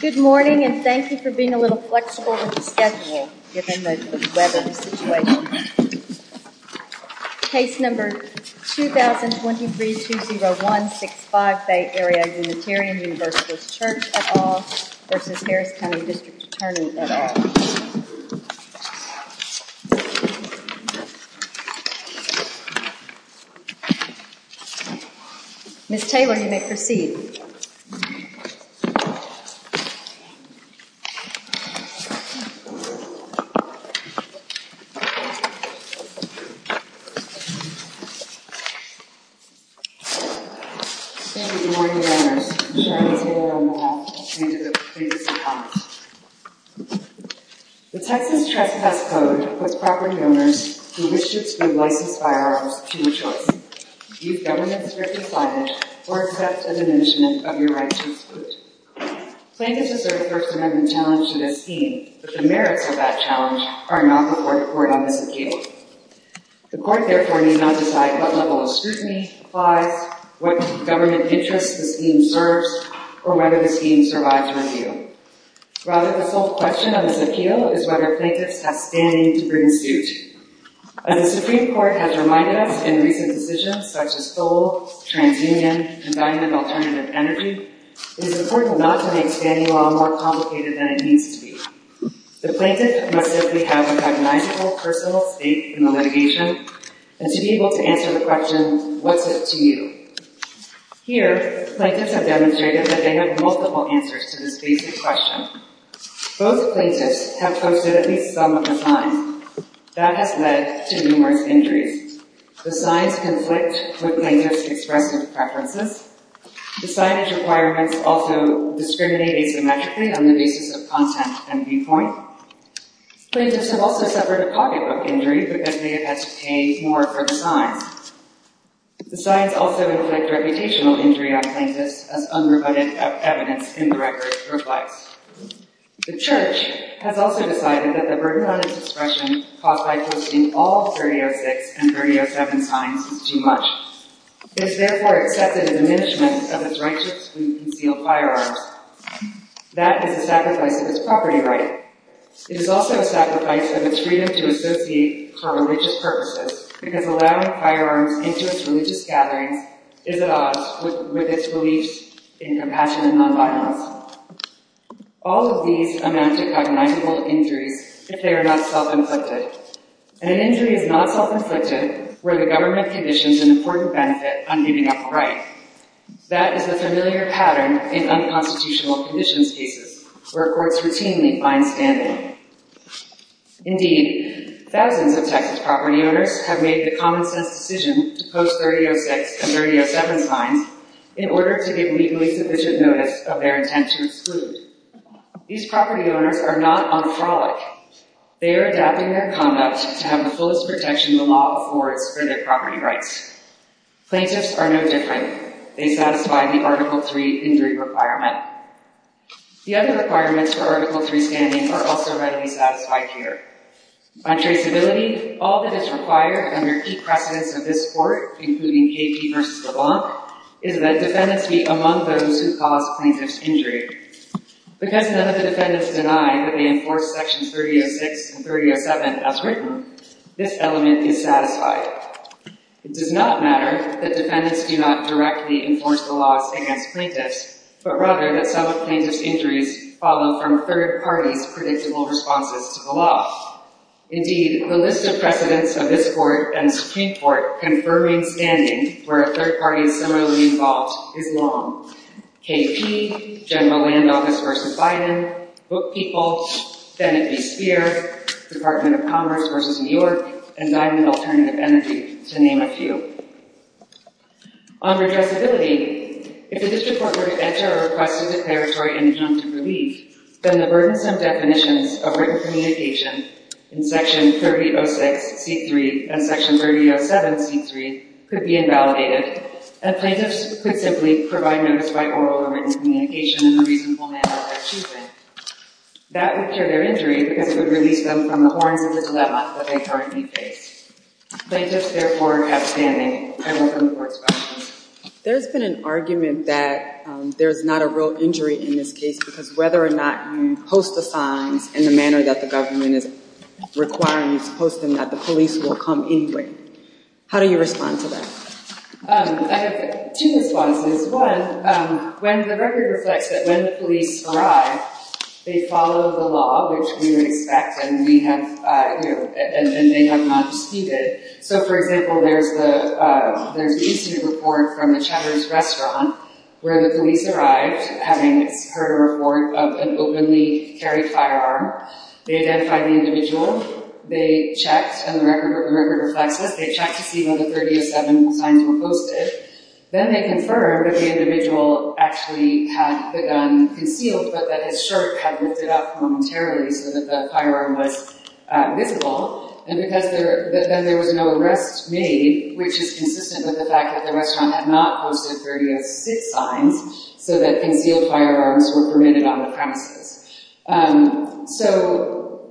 Good morning and thank you for being a little flexible with the schedule given the weather situation. Case number 2023-20165, Bay Area Unitarian v. Church of All v. Harris County District Attorney of All. Ms. Taylor, you may proceed. Thank you, Your Honor. Ms. Taylor, you may proceed. The Texas Trespass Code puts proper donors who wish to give life to firearms to the chosen. You, Governor, deserve to sign it or address the dimensions of your right to exclude. Plaintiffs deserve to remember the challenge you have seen, but the merits of that challenge are not before the Court of Appeals. The Court, therefore, may not decide at what level of scrutiny, why, what government interest the scheme serves, or whether the scheme survives review. Rather, the sole question on this appeal is whether plaintiffs have standing to bring suit. As the Supreme Court has reminded us in recent decisions such as SOLE, TransUnion, and Vendor Alternative Energy, it is important not to make standing law more complicated than it needs to be. The plaintiffs must have a recognizable personal state in the litigation, and to be able to answer the question, What's up to you? Here, plaintiffs have demonstrated that they have multiple answers to this basic question. Both plaintiffs have submitted some of the signs. That has led to numerous injuries. The signs conflict with plaintiffs' expressive preferences. The signs' requirements also discriminate asymmetrically on the basis of content and viewpoints. Plaintiffs have also suffered popular injuries because they have had to pay more for the time. The signs also reflect reputational injury on plaintiffs, as unrebutted evidence indirectly reflects. The Church has also decided that the burden on its discretion caused by posting all 3006 and 3007 signs is too much. It is therefore accepted as an instrument of its righteous and concealed firearms. That is a sacrifice of its property rights. It is also a sacrifice of its freedom to associate for religious purposes, because allowing firearms into its religious gathering is at odds with its belief in compassion and nonviolence. All of these come down to recognizable injuries if they are not self-inflicted. An injury is not self-inflicted where the government conditions an important benefit on human rights. That is a familiar pattern in unconstitutional conditions cases, where courts routinely fine stand-ins. Indeed, thousands of Texas property owners have made the common-sense decision to post 3006 and 3007 signs in order to give legally sufficient notice of their intention to include. These property owners are not on the fraud. They are adapting their conduct to have the fullest protection the law affords for their property rights. Plaintiffs are no different. They satisfy the Article III injury requirement. The other requirements for Article III standing are also readily satisfied here. On traceability, all that is required from your key precedents of this Court, including J.P. v. DeVos, is that defendants be among those who cause plaintiff's injury. Because none of the defendants deny that they enforce Section 3006 and 3007 as written, this element is satisfied. It does not matter that defendants do not directly enforce the law against plaintiffs, but rather that some plaintiff's injuries follow from a third party's predictable responses to the law. Indeed, the list of precedents of this Court and the Supreme Court confirming stand-ins where a third party is similarly involved is long. K.P., General Landau v. Biden, Book People, Fenton v. Speer, Department of Commerce v. New York, and Biden v. Alternative Energy, to name a few. On rejectability, if the District Court first enters a request for declaratory injunctions relief, then the burdensome definitions of written communication in Section 3006-3 and Section 3007-3 could be invalidated, as plaintiffs predictably provide members by oral or written communication in the reasonable manner that they're choosing. That would cure their injury, because it would release them from the horrors of the level that they currently face. Plaintiffs, therefore, got standing, had a room for discussion. There's been an argument that there's not a real injury in this case, because whether or not you post a fine in the manner that the government is requiring you to post them, that the police will come anyway. How do you respond to that? I have two responses. One, when the record reflects that when the police arrive, they follow the law, which we would expect, and they have not exceeded. So, for example, there's the recent report from the Cheddar's Restaurant, where the police arrive, having heard a report of an openly carried firearm. They identify the individual. They check, and the record reflects it. They check to see whether 30 of them un-proposed it. Then they confirm that the individual actually had the gun concealed, but that his shirt had lifted up momentarily so that the firearm was visible, and that there was no arrest made, which is consistent with the fact that the restaurant had not hold the 30 of this time, so that concealed firearms were permitted on the premises. So,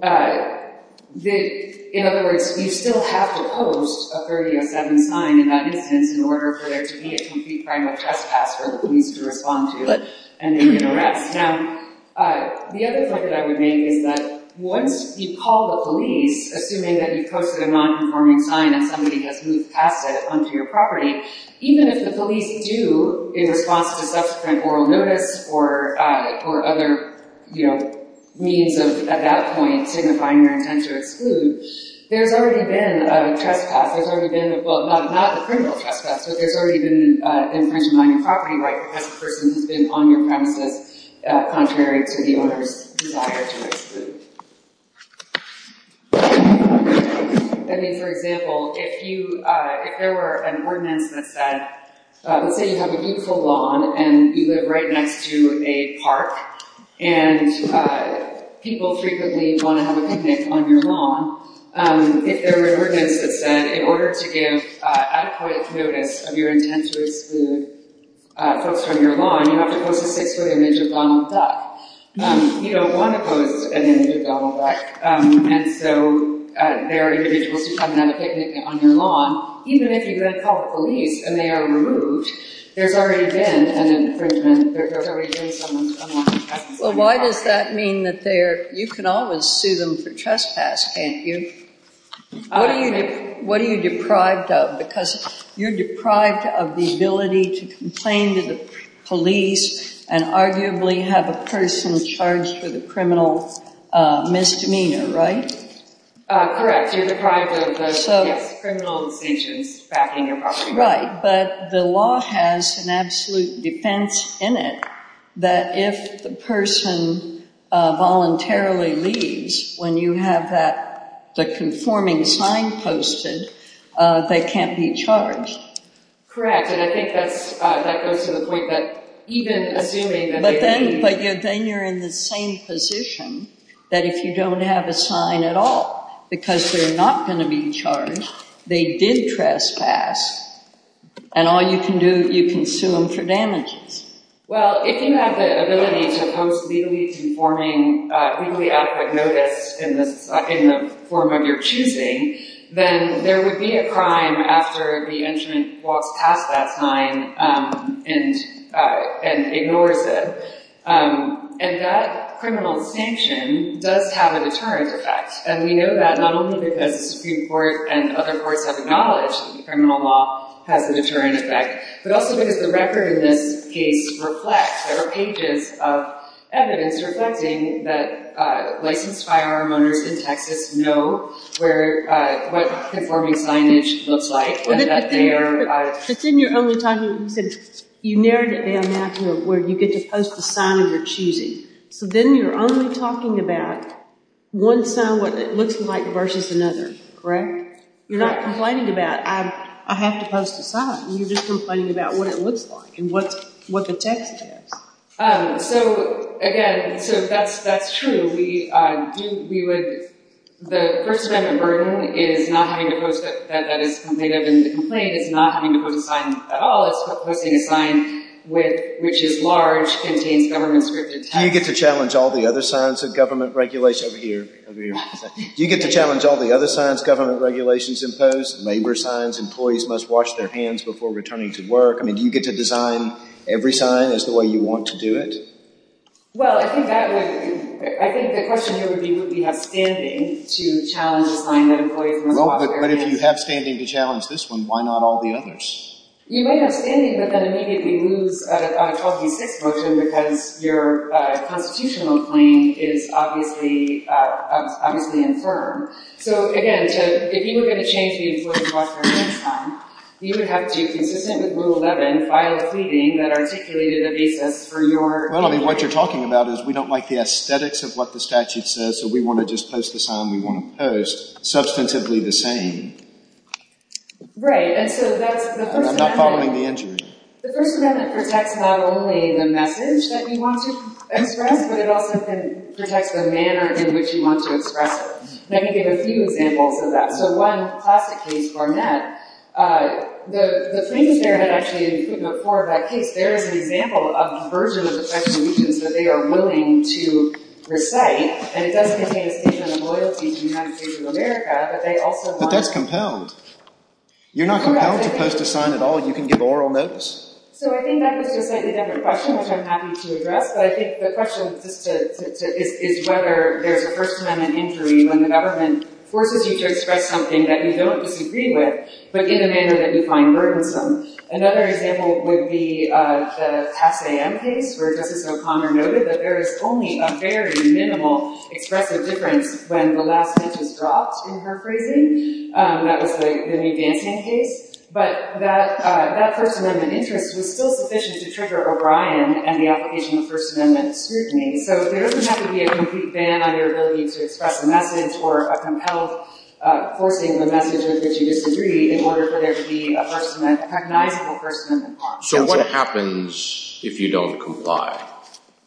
in other words, you still have to post a 30 of gunning time in that instance in order for the agency to find the trespasser who needs to respond to it, and then you arrest him. The other point that I would make is that once you call the police, assuming that you posted a non-conforming time and somebody has moved past it onto your property, even if the police do either prompt a subsequent oral notice or other means at that point to define your intent to exclude, there's already been a trespass. Well, not a criminal trespass, but there's already been an intent to mine a property right because the person is on your premises, contrary to the owner's desire to exclude. I mean, for example, if there were an ordinance that said, let's say you have a beautiful lawn and you live right next to a park, and people frequently want to have a picnic on your lawn, if there were an ordinance that said in order to give explicit notice of your intent to exclude folks from your lawn, you're not supposed to put an image of Donald Duck. You don't want to put an image of Donald Duck. And so there are individuals coming out to picnic on your lawn. Even if you get a call from the police and they are removed, there's already been an infringement. There's already been someone's unlawful trespass. Well, why does that mean that you can always sue them for trespass, can't you? What are you deprived of? Because you're deprived of the ability to complain to the police and arguably have a person charged with a criminal misdemeanor, right? Correct. You're deprived of criminalization backing your property. Right. But the law has an absolute defense in it that if the person voluntarily leaves, when you have the conforming sign posted, they can't be charged. Correct. And I think that goes to the point that even if they do leave, they can't be charged. But then you're in the same position that if you don't have a sign at all, because they're not going to be charged, they did trespass, and all you can do is you can sue them for damage. Well, if you have the ability to post legally conforming, legally adequate notice in the form of your choosing, then there would be a crime after the entrant walked past that sign and ignored them. And that criminal sanction does have a deterrent effect. And we know that not only because the Supreme Court and other courts have acknowledged that criminal law has a deterrent effect, but also because the record in this case reflects or agents of evidence reflecting that licensed firearm owners in Texas know what conforming signage looks like. But then you're only talking, you narrowed it down to where you get to post the sign of your choosing. So then you're only talking about one sign, what it looks like, versus another. Correct? You're not complaining about I have to post the sign. You're just complaining about what it looks like and what the text says. So, again, that's true. We would, the person that is burdened is not going to post a sign that is committed in the complaint. It's not in the complaint at all. It's what they would find which is large, contained government-scripted text. Do you get to challenge all the other signs of government regulation? Over here, over here. Do you get to challenge all the other signs government regulations impose, labor signs, employees must wash their hands before returning to work? I mean, do you get to design every sign as the way you want to do it? Well, I think that would, I think the question here would be, would we have standing to challenge the fine of an employee from a law firm? But if you have standing to challenge this one, why not all the others? You may have standing, but then immediately lose, I would call it a fix mostly because your constitutional claim is obviously infirm. So, again, if you were going to change the employee to wash their hands sign, you would have to consent to Rule 11 by a pleading that articulated a basis for your claim. Well, I mean, what you're talking about is we don't like the aesthetics of what the statute says, so we want to just post the sign we want to post, substantively the same. Right. And so that's the first method. I'm not following the answer. The first method protects not only the message that you want to express, but it also can protect the manner in which you want to express it. Let me give a few examples of that. So one class case for men, the thing there that actually, in the poor guy case, there is an example of a version of the statute that they are willing to recite, and it does contain a statement of loyalty to the United States of America, but they also want to But that's compelled. You're not compelled to post a sign at all, and you can give oral notice? So I think that's a completely different question, which I'm happy to address, but I think the question is whether there is a First Amendment injury when the government forces you to express something that you don't disagree with, but in a manner that you find burdensome. Another example would be the Assam case, where Justice O'Connor noted that there is only a very minimal expected difference when the last sentence dropped in her phrasing. That was the new Danton case. But that person was still sufficient to trigger O'Brien and the application of First Amendment scrutiny. So there doesn't have to be a complete ban on your ability to express a message, or a compelled forcing the message that you disagree in order for there to be a person that's recognizing the First Amendment clause. So what happens if you don't comply?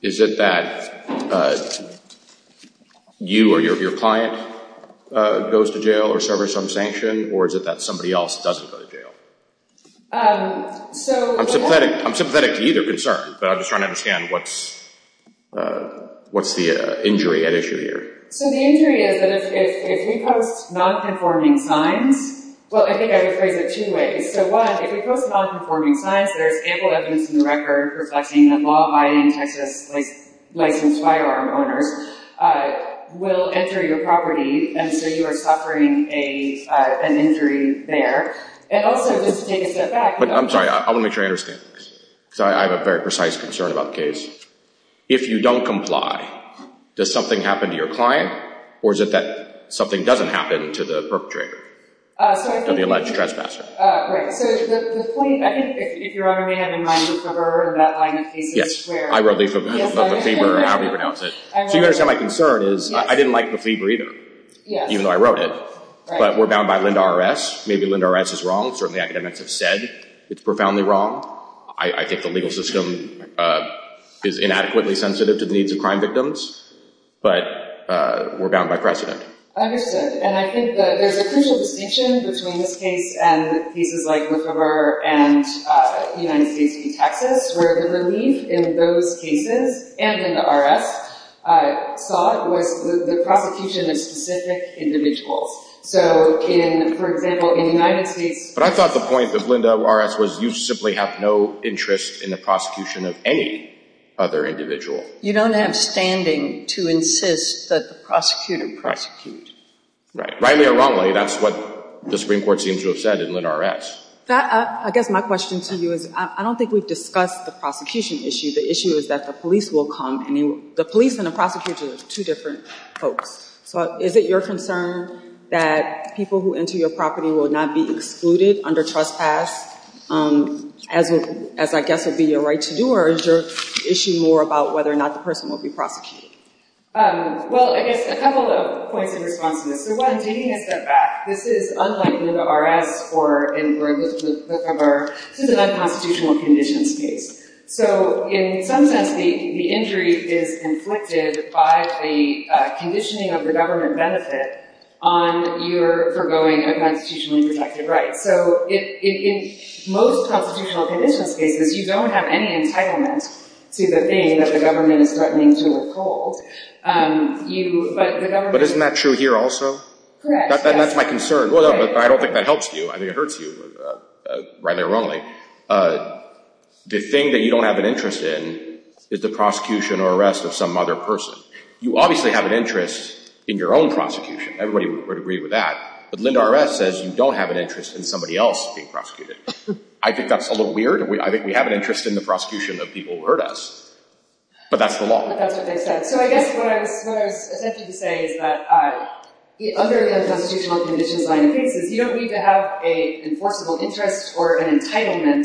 Is it that you or your client goes to jail or serves some sanction, or is it that somebody else doesn't go to jail? I'm sympathetic to either concern, but I'm just trying to understand what's the injury at issue here. So the injury is that if you post nonconforming signs, well, I think I would phrase it two ways. So one, if you post nonconforming signs, there is ample evidence in the record reflecting that law-abiding Texas-licensed firearm owners will enter your property unless you are suffering an injury there. It also just states that fact. I'm sorry. I want to make sure I understand. Because I have a very precise concern about the case. If you don't comply, does something happen to your client, or is it that something doesn't happen to the perpetrator? They'll be allowed to trespass. So the point, I think, if Your Honor may have in mind, you've heard that line of thinking. Yes, I wrote the paper on how to pronounce it. So my concern is I didn't like the paper either, even though I wrote it. But we're bound by LEND-RS. Maybe LEND-RS is wrong. Certainly, academics have said it's profoundly wrong. I think the legal system is inadequately sensitive to the needs of crime victims. But we're bound by precedent. Understood. And I think there's a crucial distinction between this case and cases like McComber and United States v. Texas, where the release in those cases and in the LEND-RS caused the prosecution of specific individuals. So, for example, in the United States— But I thought the point of LEND-RS was you simply have no interest in the prosecution of any other individual. You don't have standing to insist that the prosecutor prosecutes. Rightly or wrongly, that's what the Supreme Court seems to have said in LEND-RS. I guess my question to you is I don't think we've discussed the prosecution issue. The issue is that the police will come. I mean, the police and the prosecutors are two different folks. But is it your concern that people who enter your property will not be excluded under trespass, as I guess would be your right to do? Or is there an issue more about whether or not the person will be prosecuted? Well, I guess a couple of points in response to this. One, taking a step back, this is unlike LEND-RS or, for instance, McComber, this is an unconstitutional conditions case. So in some sense, the injury is inflicted by the conditioning of the government benefit on your foregoing a constitutionally protected right. So in most constitutional conditions cases, you don't have any entitlement to the thing that the government is threatening to withhold. But isn't that true here also? That's my concern. I don't think that helps you. I mean, it hurts you. Rightly or wrongly, the thing that you don't have an interest in is the prosecution or arrest of some other person. You obviously have an interest in your own prosecution. Everybody would agree with that. But LEND-RS says you don't have an interest in somebody else being prosecuted. I think that's a little weird. I think we have an interest in the prosecution of people who hurt us. But that's the law. So I guess what I was attempting to say is that the underlying constitutional conditions, I think, is you don't need to have an enforceable interest or an entitlement.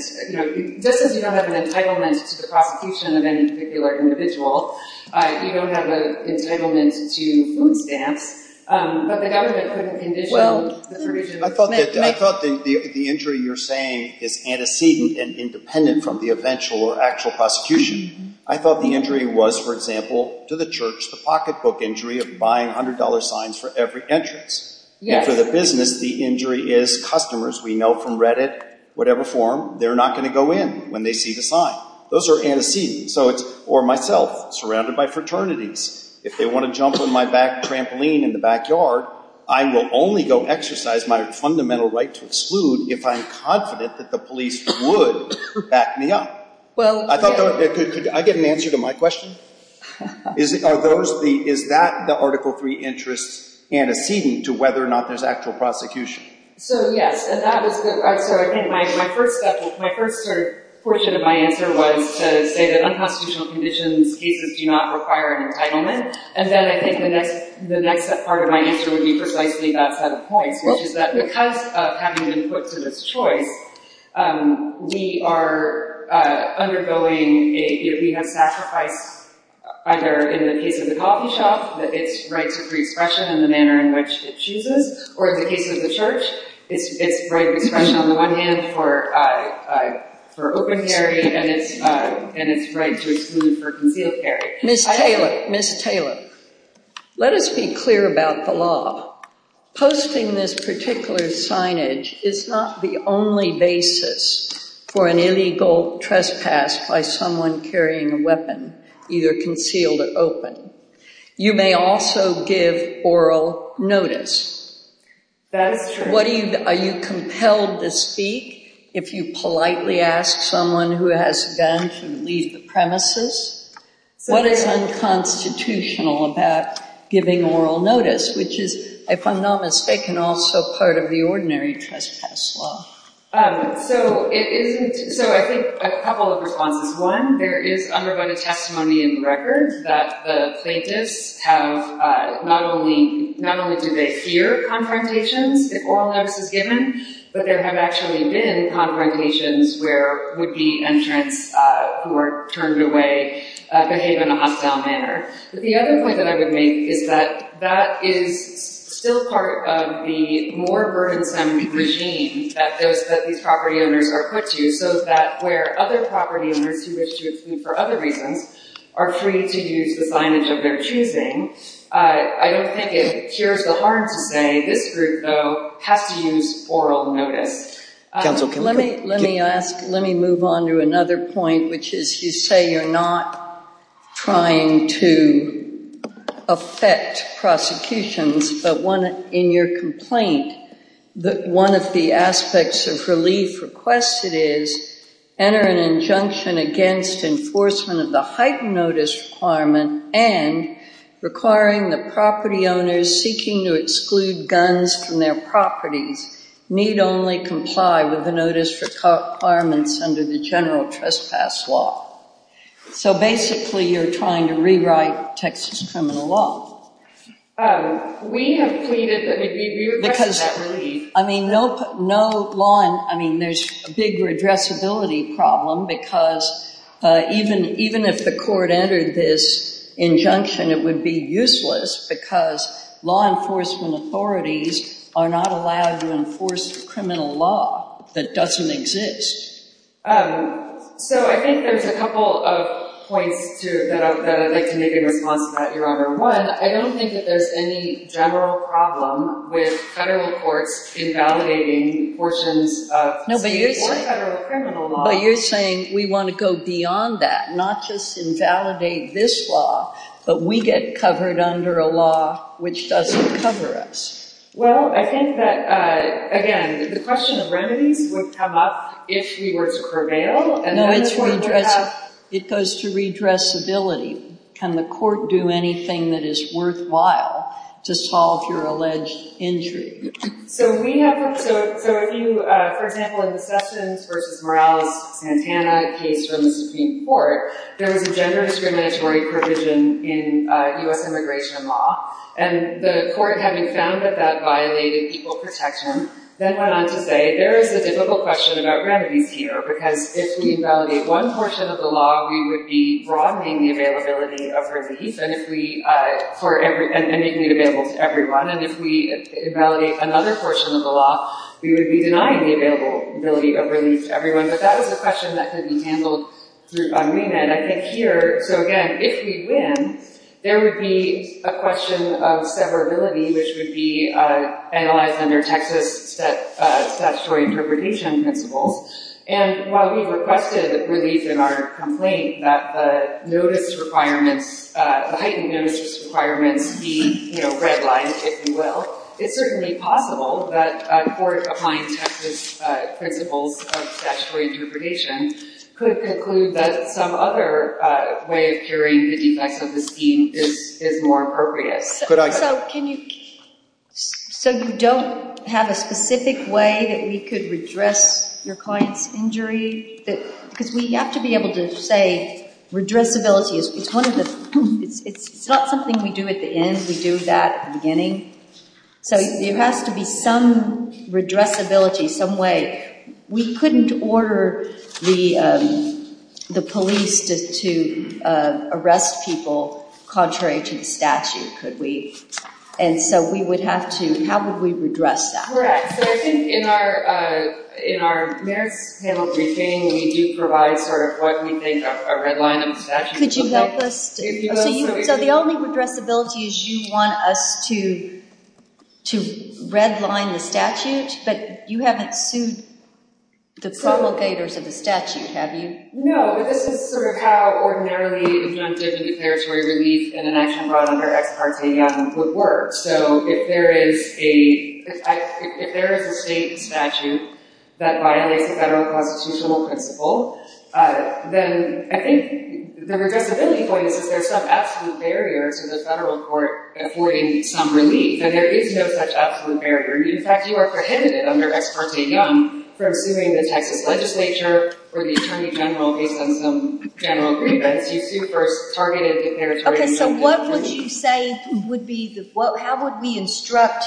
This is you don't have an entitlement to the prosecution of any particular individual. You don't have an entitlement to food stamps. But there are other conditions. I thought the injury you're saying is antecedent and independent from the eventual or actual prosecution. I thought the injury was, for example, to the church, the pocketbook injury of buying $100 signs for every entrance. And for the business, the injury is customers. We know from Reddit, whatever forum, they're not going to go in when they see the sign. Those are antecedents. So it's, or myself, surrounded by fraternities. If they want to jump on my back trampoline in the backyard, I will only go exercise my fundamental right to exclude if I'm confident that the police would back me up. I get an answer to my question? Is that the Article III interest antecedent to whether or not there's actual prosecution? So, yes. And that is where I think my first portion of my answer was to say that unconstitutional conditions cases do not require an entitlement. And then I think the next part of my answer would be precisely that set of points, which is that because of having been put to the Detroit, we are undergoing a human sacrifice, either in the case of the coffee shop, that it's right to free expression in the manner in which it chooses, or in the case of the church, it's right to expression on one hand for open areas and it's right to exclude for concealed areas. Ms. Taylor, Ms. Taylor, let us be clear about the law. Posting this particular signage is not the only basis for an illegal trespass by someone carrying a weapon, either concealed or open. You may also give oral notice. Are you compelled to speak if you politely ask someone who has been to leave the premises? What is unconstitutional about giving oral notice, which is, if I'm not mistaken, also part of the ordinary trespass law? So, I think a couple of responses. One, there is underwriting testimony in the record that the plaintiffs have not only did they hear confrontations if oral notice was given, but there have actually been confrontations where would-be entrants who are turned away behave in a hostile manner. The other point that I would make is that that is still part of the more burdensome regime that these property owners are put to, so that where other property owners who have chosen for other reasons are free to use the signage of their choosing. I don't think it cures the harm to say If you want to get through it, though, have to use oral notice. Let me move on to another point, which is you say you're not trying to affect prosecutions, but in your complaint, one of the aspects of relief requested is enter an injunction against enforcement of the heightened notice requirement and requiring the property owners who are seeking to exclude guns from their property need only comply with the notice requirements under the general trespass law. So basically, you're trying to rewrite Texas criminal law. We have tweeted that it would be regressability. I mean, there's a big regressability problem because even if the court entered this injunction, it would be useless because law enforcement authorities are not allowed to enforce criminal law that doesn't exist. So I think there's a couple of points, too, that I would like to make in response to that, Your Honor. One, I don't think that there's any general problem with federal courts invalidating enforcement of state or federal criminal law. No, but you're saying we want to go beyond that, not just invalidate this law, but we get covered under a law which doesn't cover us. Well, I think that, again, the question of remedy would come up if we were to prevail. No, it goes to regressability. Can the court do anything that is worthwhile to solve your alleged injury? So if you, for example, in the Sessions v. Morales and Anaheim v. Supreme Court, there was a gender discriminatory provision in US immigration law. And the court, having found that that violated people's protection, then went on to say there is a difficult question about remedy, Pio, because if we invalidate one portion of the law, we would be broadening the availability of remedies for anything available to everyone. And if we invalidate another portion of the law, we would be denying the availability of remedies to everyone. But that was a question that couldn't be handled through amendment. So again, if we win, there would be a question of severability, which would be analyzed under Texas statutory appropriation principle. And while we've requested relief in our complaint that the heightened notice requirements be redlined, if you will, it's certainly possible that a court applying the Texas principle of statutory appropriation could conclude that some other way of curing the effects of the scheme is more appropriate. So you don't have a specific way that we could redress your client's injury? Because we have to be able to say redressability is not something we do at the end. We do that at the beginning. So there has to be some redressability, some way. We couldn't order the police to arrest people contrary to statute, could we? And so we would have to, how would we redress that? In our merit penalty scheme, we do provide for what we think are redlining statutes. Could you help us? So the only redressability is you want us to redline the statute? But you haven't sued the provocators of the statute, have you? No, but this is sort of how ordinarily injunctive deterritory relief and an action brought under Act Part B would work. So if there is a state statute that violates federal constitutional principle, then I think the representing point is that there's some absolute barrier to the federal court affording some relief. And there is no such absolute barrier. In fact, you are prohibited under Act Part B from doing the type of legislature where the attorney general is on some general relief. And if you first targeted the territory and tried to get relief. OK, so what would you say would be the, how would we instruct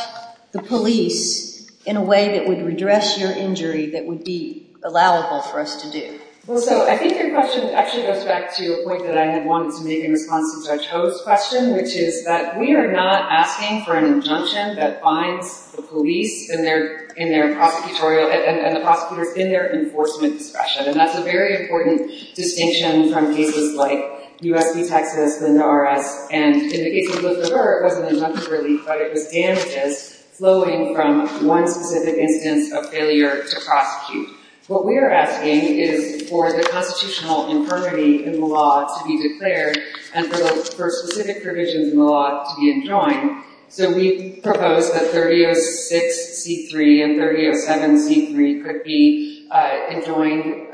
the police in a way that would redress your injury that would be allowed for us to do? Well, so I think your question actually goes back to the point that I had wanted to make in response to Judge Ho's question, which is that we are not asking for an injunction that fines the police and the prosecutor in their enforcement discretion. And that's a very important distinction in some cases like US v. Texas and the IRS. And in the case of Elizabeth Earle, there was an injunctive relief, but it was damages flowing from one specific instance of failure to prosecute. What we are asking is for the constitutional infirmity in the law to be declared and for specific provisions in the law to be enjoined. So we propose that 30-06-D3 and 30-07-D3 could be enjoined.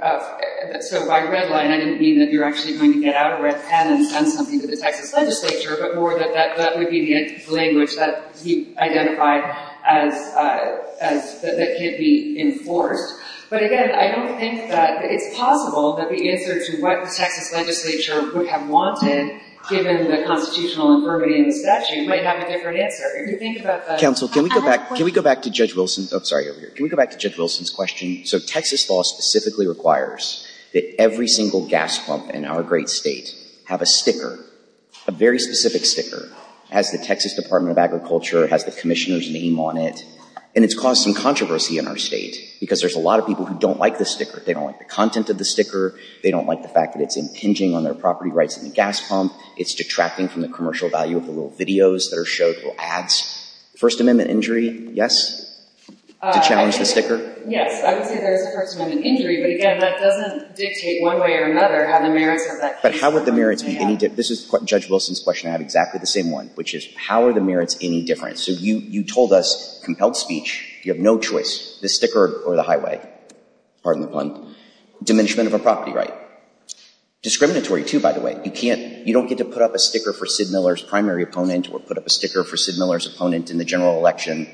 So by redlining, I didn't mean that you're actually going to get out of red pen and do something with the type of legislature, but more that that would be the language that you identified that could be enforced. But again, I don't think that it's possible that the answer to what the Texas legislature would have wanted, given the constitutional infirmity in the statute, might have a different answer. If you think about that. Counsel, can we go back to Judge Wilson's question? So Texas law specifically requires that every single gas pump in our great state have a sticker, a very specific sticker. It has the Texas Department of Agriculture. It has the commissioner's name on it. And it's caused some controversy in our state because there's a lot of people who don't like the sticker. They don't like the content of the sticker. They don't like the fact that it's impinging on their property rights in the gas pump. It's detracting from the commercial value of the little videos that are shown, little ads. First Amendment injury, yes? To challenge the sticker? Yes. I would say there is a First Amendment injury, but again, that doesn't dictate one way or another how the merits of that sticker are. This is Judge Wilson's question. I have exactly the same one, which is, how are the merits any different? So you told us, compelled speech, you have no choice. The sticker or the highway? Pardon the pun. Diminishment of a property right. Discriminatory, too, by the way. You don't get to put up a sticker for Sid Miller's primary opponent or put up a sticker for Sid Miller's opponent in the general election.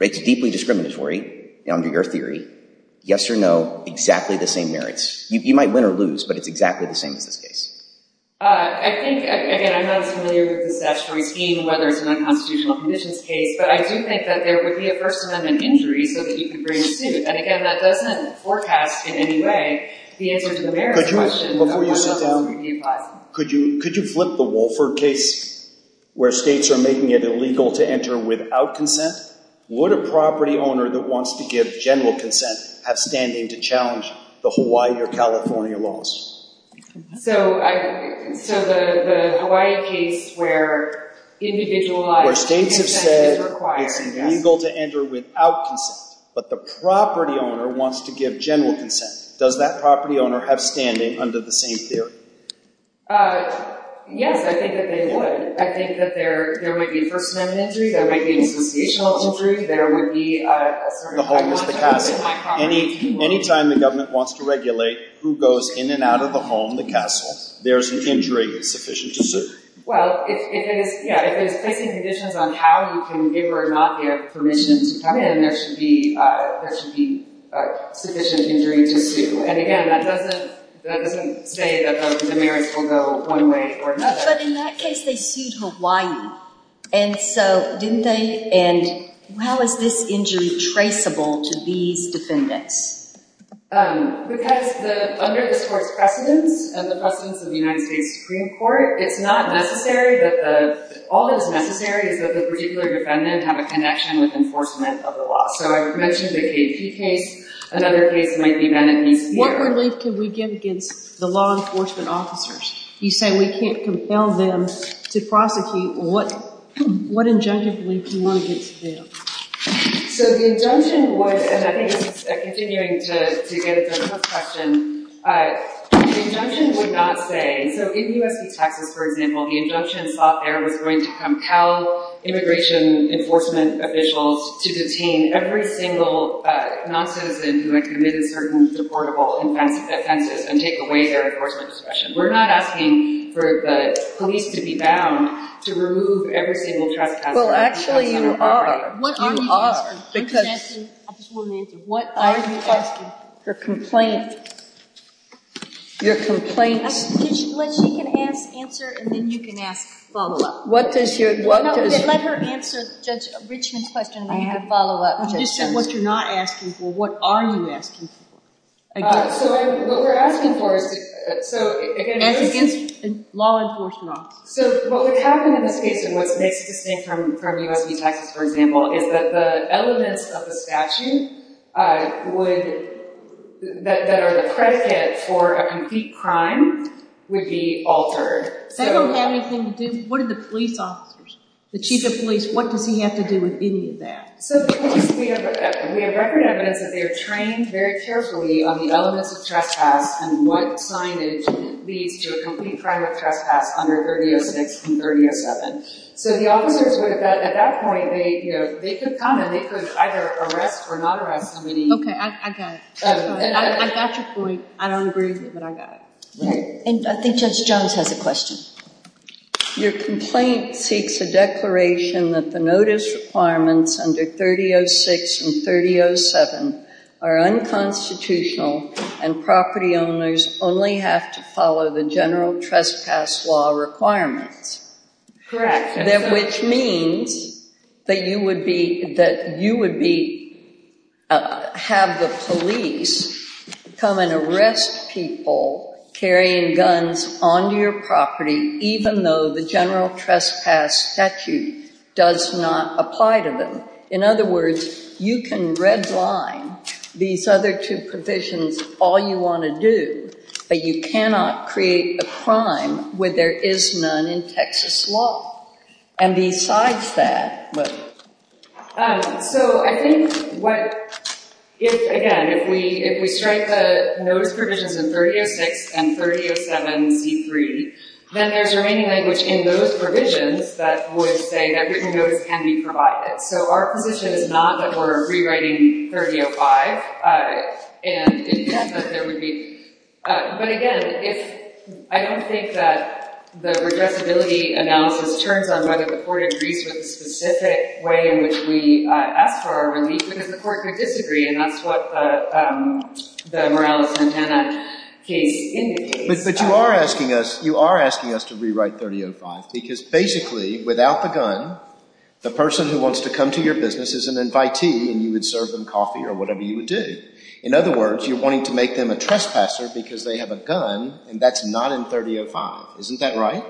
It's deeply discriminatory, under your theory. Yes or no, exactly the same merits. You might win or lose, but it's exactly the same as the case. I think, again, I'm not familiar with that striking, whether it's an unconstitutional conditions case, but I do think that there would be a First Amendment injury And again, that doesn't forecast, in any way, the entrance of the merits. Judge Wilson, before you sit down, could you flip the wall for a case where states are making it illegal to enter without consent? Would a property owner that wants to give general consent have standing to challenge the Hawaii or California laws? So the Hawaii case where individualized consent is illegal to enter without consent, but the property owner wants to give general consent. Does that property owner have standing under the same theory? Yes, I think that they would. I think that there would be a First Amendment injury, there would be an imputational injury, there would be, for example... Any time the government wants to regulate who goes in and out of the home, the castle, there's an injury that's sufficient to sue. Well, it's taking conditions on how you can, if or not you have permission to come in, there should be sufficient injury to sue. And again, that doesn't say that the merits will go one way or another. But in that case, they sued Hawaii. And so, didn't they? And how is this injury traceable to the defendant? Because under the court's precedent, as a precedent of the United States Supreme Court, it's not necessary that the... All that's necessary is that the particular defendant have a connection with enforcement of the law. So I've mentioned the Casey case, another case might be done in New York. What relief could we get against the law enforcement officers? You say we can't compel them to prosecute. What injunctions would you want to get them to do? So the injunction would, and I think I'm continuing to get into this question, the injunction would not say... So in the U.S. Supreme Court, for example, the injunction is not going to compel immigration enforcement officials to detain every single non-citizen who has committed certain supportable offenses and take away their enforcement discretion. We're not asking for the police to be bound to remove everything that's... Well, actually, you are. You are. Because what I'm asking for complaint... I can teach you what you can answer, and then you can ask a follow-up. Let her answer Rich's question, and then you can have a follow-up. You just said what you're not asking for. What are you asking for? So what we're asking for... Law enforcement officers. So what would happen in this case, from the U.S. Supreme Court, for example, is that the elements of the statute that are the predicate for a complete crime would be altered. What are the police officers? The chief of police, what does he have to do with any of that? We have a record that says that they are trained very carefully on the elements of trespass and what signage leads to a complete crime of trespass under 30.06 and 30.07. So the officers, at that point, they could either arrest or not arrest. Okay, I got it. At that point, I don't agree, but I got it. And I think Judge Jones had a question. Your complaint seeks a declaration that the notice requirements under 30.06 and 30.07 are unconstitutional and property owners only have to follow the general trespass law requirement. Correct. Which means that you would be, have the police come and arrest people carrying guns onto your property, even though the general trespass statute does not apply to them. In other words, you can redline these other two provisions all you want to do, but you cannot create a crime where there is none in Texas law. And besides that, what? So I think what, again, if we trade the notice provisions in 30.06 and 30.07.3, then there's remaining language in those provisions that would say that written notice can be provided. So our position is not that we're rewriting 30.05 and intent that there would be, but again, I don't think that the regrettability amount of concerns on whether the court agrees with the specific way in which we ask for a release, because the court could disagree and that's what the morale of Montana case indicates. But you are asking us, you are asking us to rewrite 30.05 because basically, without the gun, the person who wants to come to your business is an invitee and you would serve them coffee or whatever you would do. In other words, you're wanting to make them a trespasser because they have a gun and that's not in 30.05. Isn't that right?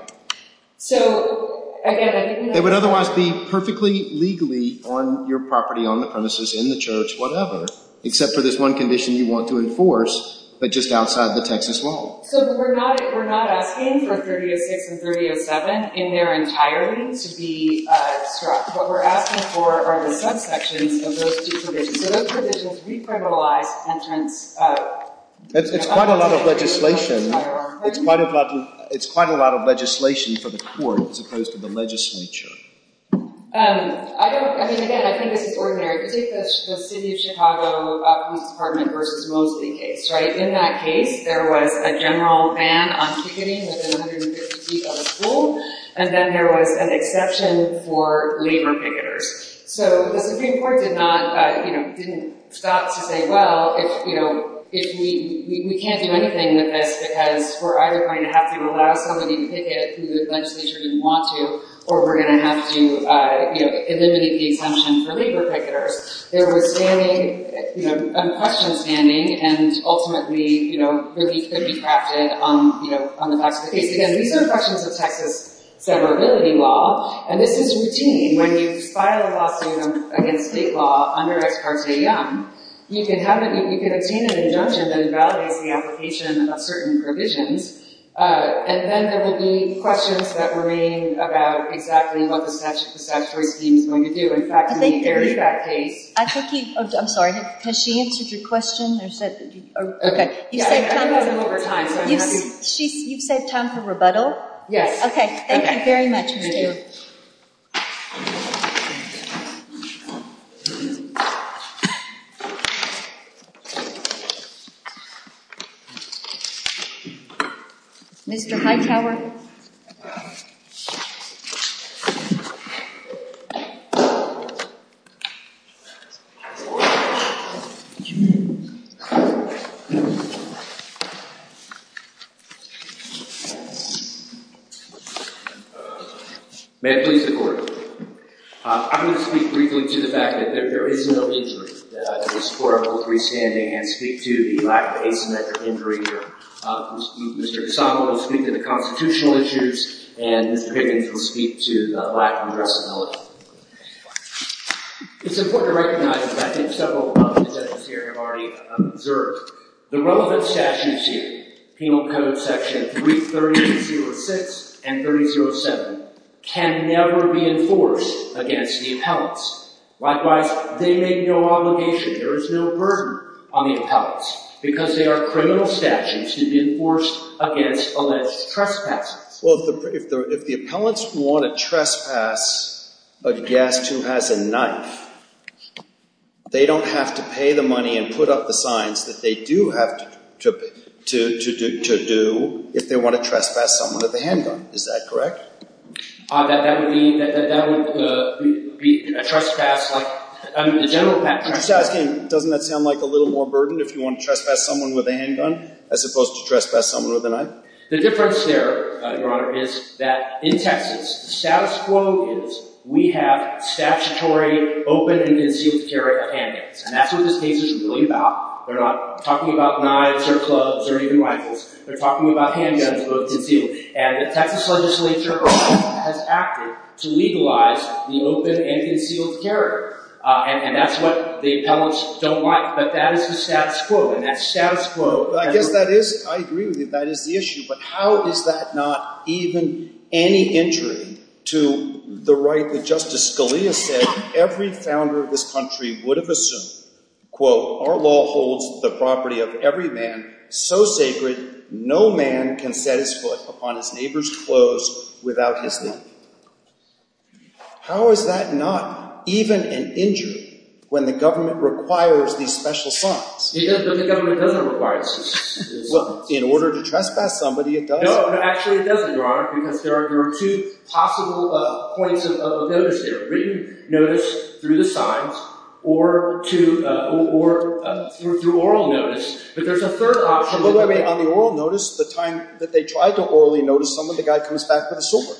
It would otherwise be perfectly legally on your property, on the premises, in the church, whatever, except for this one condition you want to enforce but just outside the Texas law. So we're not asking for 30.06 and 30.07 in their entirety to be, what we're asking for are the subsections of those two provisions. Those provisions re-criminalize pension. It's quite a lot of legislation. It's quite a lot of legislation for the court as opposed to the legislature. I don't, I mean again, I think it's ordinary. I think that the city of Chicago and the department were mostly engaged, right? In that case, there was a general ban on shooting within 150 feet of the school and then there was an exception for labor figures. So the Supreme Court did not, it didn't stop to say, well, we can't do anything with this because we're either going to have to allow somebody to take it who the legislature didn't want to or we're going to have to eliminate the exemption for labor figures. There were standing, unquestionable standing and ultimately, you know, pretty trapped in on the back of the case. Again, these are sections of Texas severability law and this is routine. When you file a lawsuit against state law you can obtain an injunction that validates the application of certain provisions and then there will be questions that remain about exactly what the statute is going to do. I'm sorry, has she answered your question? You said time for rebuttal? Yes. Okay, thank you very much. Thank you. Mr. Hightower. May I please report? I'm going to speak briefly to the fact that there is no injury at this court. I will freestand and speak to the lack of age and medical injury here. Mr. DeSantis will speak to the constitutional issues and Ms. Perkins will speak to the lack of addressability. It's important to recognize that I think several sections here have already observed. The relevant statute issues, Penal Code Section 330-206 and 330-7 can never be enforced against the appellants. Likewise, they make no obligation, there is no burden on the appellants because they are a criminal statute to be enforced against alleged trespass. Well, if the appellants want to trespass a guest who has a knife, they don't have to pay the money and put up the signs that they do have to do if they want to trespass someone with a handgun. Is that correct? That would be a general practice. Doesn't that sound like a little more burden if you want to trespass someone with a handgun as opposed to trespass someone with a knife? The difference there, Your Honor, is that in Texas, the status quo rules, we have statutory open and concealed carry of handguns. And that's what this case is really about. We're not talking about knives or clubs or anything like this. We're talking about handguns. And the Texas legislature has acted to legalize open and concealed carry. And that's what the appellants don't want. But that is the status quo. I guess that is, I agree with you, that is the issue. But how is that not even any injury to the right that Justice Scalia said every founder of this country would have assumed? Quote, our law holds the property of every man so sacred no man can set his foot upon his neighbor's clothes without his name. How is that not even an injury when the government requires these special funds? Yes, but the government doesn't require it. Well, in order to trespass somebody, it does. No, but actually it doesn't, Your Honor, because there are two possible points of notice here. We can notice through the signs or through oral notice. But there's a third option. On the oral notice, the time that they try to orally notice somebody, the guy comes back with a sword.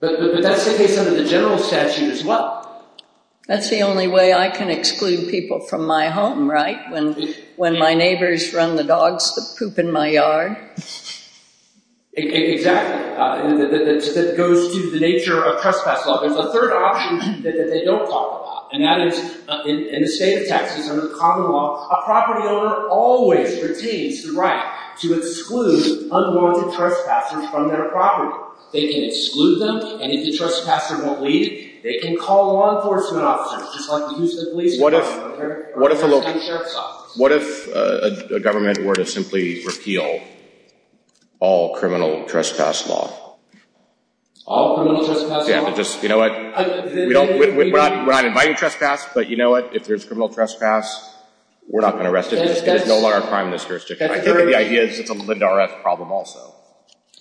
But that's the case under the general statute as well. That's the only way I can exclude people from my home, right? When my neighbors run the dogs the poop in my yard. Exactly. That goes to the nature of trespass law. There's a third option that they don't talk about. And that is in the state of Texas, under the common law, a property owner always retains the right to exclude unwarranted trespassers from their property. They can exclude them, and if the trespasser won't leave, they can call law enforcement officers to try to get them to leave. What if a government were to simply repeal all criminal trespass law? All criminal trespass law? You know what? We're not inviting trespass, but you know what? If there's criminal trespass, we're not going to arrest them. There's no longer time in this jurisdiction. I think the idea is to put them into our last problem also.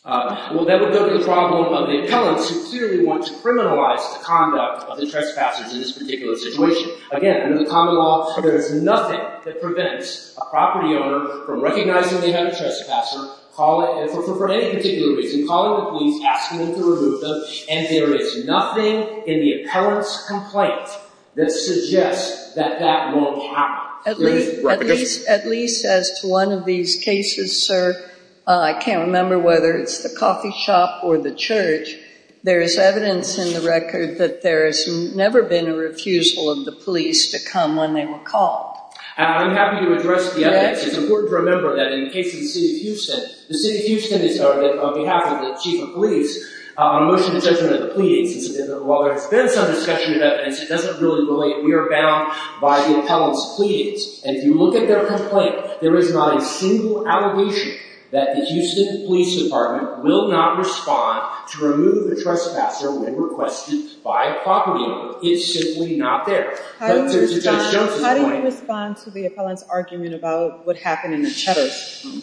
Well, then there's the problem of the appellants who clearly want to criminalize the conduct of the trespassers in this particular situation. Again, under the common law, there is nothing that prevents a property owner from recognizing they have a trespasser, call it for any particular reason, call it if he's asking them to remove them, and there is nothing in the appellant's complaint that suggests that that won't happen. At least as to one of these cases, sir, I can't remember whether it's the coffee shop or the church. There is evidence in the record that there has never been a refusal of the police to come on any call. I'm happy to address the evidence. It's important to remember that in the case of the city of Houston, the city of Houston is on behalf of the chief of police. Most of the judgment of the police, while there is some discussion of evidence, it doesn't really relate. We are bound by the appellant's pleas. And if you look at their complaint, there is not a single allegation that the Houston police department will not respond to remove the trespasser when requested by a property owner. It's simply not there. How do you respond to the appellant's argument about what happened in the Cheddar's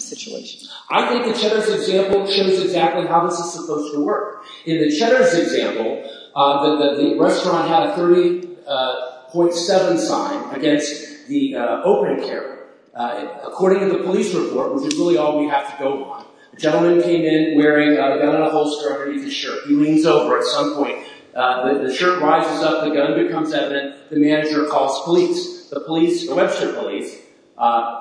situation? I think the Cheddar's example shows exactly how this is supposed to work. In the Cheddar's example, the restaurant had a 30.7 fine against the opening care. According to the police report, which is really all we have to go on, a gentleman came in wearing a gun on a holster underneath his shirt. He leans over at some point. The shirt rises up. The gun becomes evident. The manager calls police. The police, the Western police,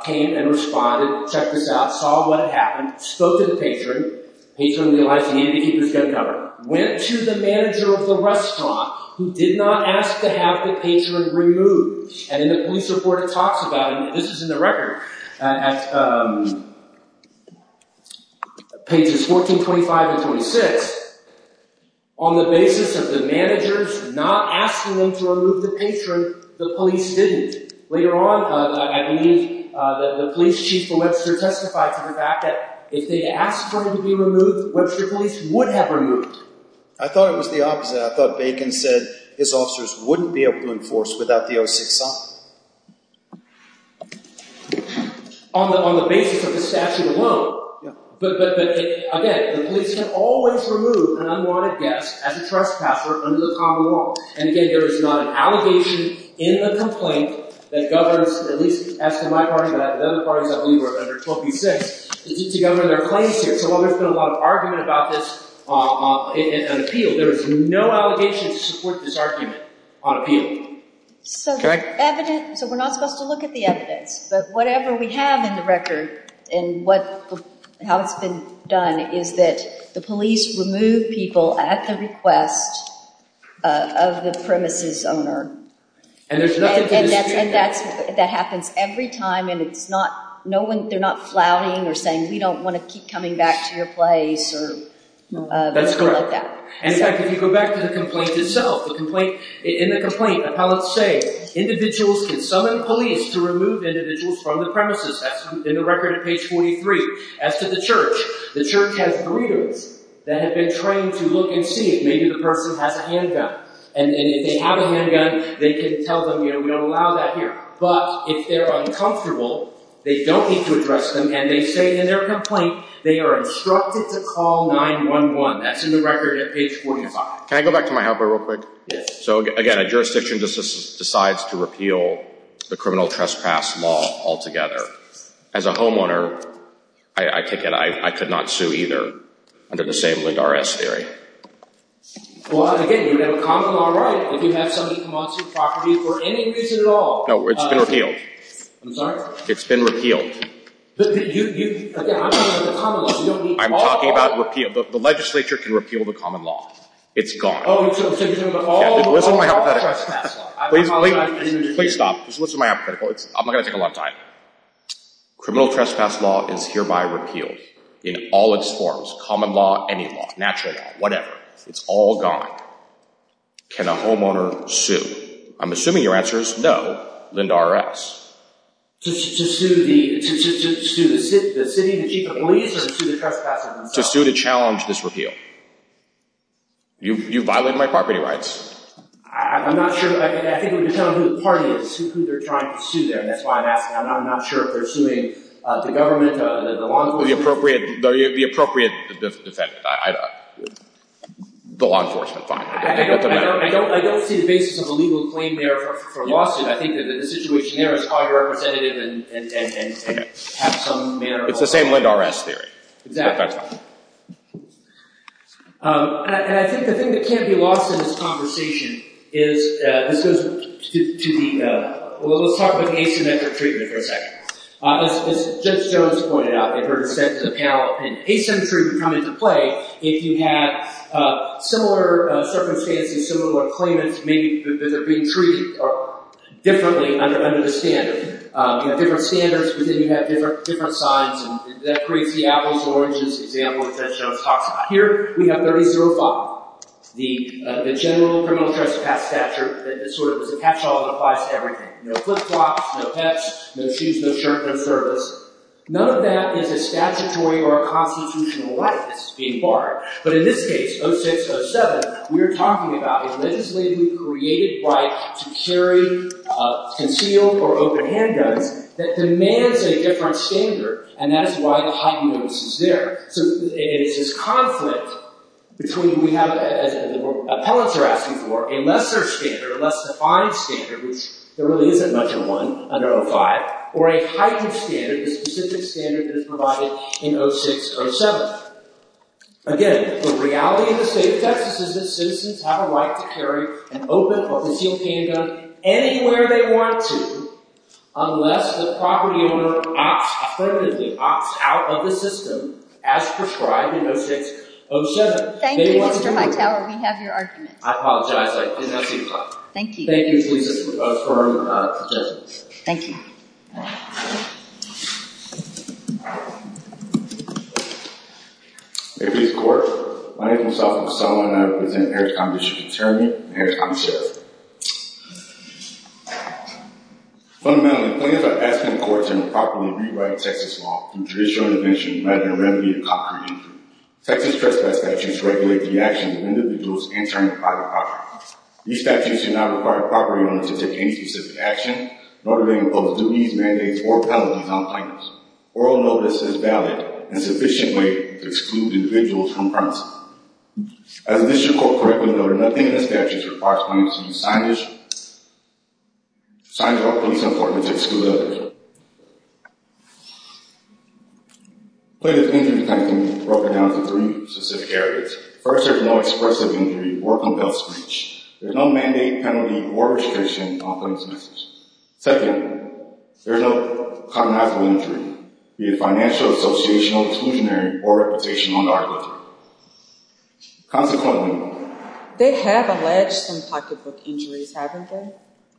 came and responded. Checked us out. Saw what happened. Spoke to the patron. Patron realized he had to keep his gun down. Went to the manager of the restaurant, who did not ask to have the patron removed. And the police report talks about it, and this is in the record, pages 14, 25, and 26. On the basis of the managers not asking them to remove the patron, the police didn't. Later on, I believe the police chief, Webster testified to the fact that if they asked for him to be removed, Webster police would have removed him. I thought it was the opposite. I thought Bacon said his officers wouldn't be able to enforce without the OSHA's help. On the basis of the statute alone, but again, the police can always remove an unwanted guest as a trespasser under the common law. And again, there is not an allegation in the complaint that governs, at least as to my part, and I have other parties I believe are under 12U6, that each of the other 26 are going to put a lot of argument about this in an appeal. There is no allegation to support this argument on appeal. Correct? So we're not supposed to look at the evidence. But whatever we have in the record, and how it's been done, is that the police remove people at the request of the premises owner. And there's nothing to dispute that. That happens every time. And they're not plowing or saying, we don't want to keep coming back to your place. That's correct. And in fact, if you go back to the complaint itself, in the complaint, appellants say, individuals can summon police to remove individuals from the premises. That's in the record in page 43. As to the church, the church has groups that have been trained to look and see. Maybe the person has a handgun. And if they have a handgun, they can tell them, we don't allow that here. But if they're uncomfortable, they don't need to address them. And they say in their complaint, they are instructed to call 911. That's in the record at page 45. Can I go back to my helper real quick? Yes. So again, a jurisdiction that decides to repeal the criminal trespass law altogether. As a homeowner, I take it I could not sue either under the same Ligars theory. Well, again, if they're coming all right, we can have somebody come on to the property for any reason at all. No, it's been repealed. I'm sorry? It's been repealed. But you, you, the legislature can repeal the common law. You don't need all of it. I'm talking about repeal. The legislature can repeal the common law. It's gone. Oh, so it's going to put all the law on trespass. Please, please, please stop. Just listen to my hypothetical. I'm not going to take a lot of time. Criminal trespass law is hereby repealed in all its forms, common law, any law, natural law, whatever. It's all gone. Can a homeowner sue? I'm assuming your answer is no than the IRS. To sue the chief of police or to sue the trespasser? To sue to challenge this repeal. You violated my property rights. I'm not sure. I can't even tell who the party is, who they're trying to sue there. That's why I'm asking. I'm not sure if they're suing the government, The appropriate defense. The law enforcement. I don't see the basis of a legal claim there for a lawsuit. I think that the situation here is underrepresentative and has some manner of It's the same with IRS theory. I think the thing that can't be lost in this conversation is this is to the We'll talk about the HMFA treatment protection. As Judge Jones pointed out in her acceptance of the panel, in HMFA treatment coming into play, if you have similar circumstances, similar claimants, maybe they're being treated differently under a different standard. You have different standards. You may have different signs. Does that create diabolical origins? Diabolical intentions? Here, we have 30-0 law. The general criminal justice statute. It's sort of the catch-all of the pie of everything. No flip-flops, no pets, no shoes, no shirt, no service. None of that is a statutory or a constitutional right that's being barred. But in this case, 06-07, we are talking about a legislatively created right to carry a continual or open handgun that demands a different standard. And that is why the Hopkins case is there. There's conflict between what we're apologizing for, a lesser standard, a less-defined standard, which there really isn't much of one under 05, or a heightened standard, the specific standard that is provided in 06-07. Again, the reality of the state of Texas is that citizens have a right to carry an open, public-use handgun anywhere they want to, unless the property owner opts out of the system as prescribed in 06-07. Thank you, Mr. Hightower. We have your argument. I apologize. I did not mean to interrupt. Thank you. Thank you. Please affirm your objection. Thank you. Every court, my name is Alvin Sullivan. I live in the Harris County District Attorneyate, Harris County Sheriff. One of my only plans is to ask the courts to improperly rewrite the Texas law through traditional interventions rather than remedy a concrete injury. Texas trespass statutes regulate the actions of individuals entering a private property. These statutes do not require the property owner to take any specific action, nor do they impose duties, mandates, or penalties on the person. Oral notice is valid and is a sufficient way to exclude individuals from permanence. As a district court record, there were nothing in the statute that requires clients to be signed by a police employee to exclude others. Please think of this time frame as being broken down into three specific areas. First, there is no expressive injury or compel speech. There is no mandate, penalty, or restriction on such speech. Second, there is no cognitive injury, be it financial, associational, pecuniary, or reputational. They have alleged some type of injury, haven't they?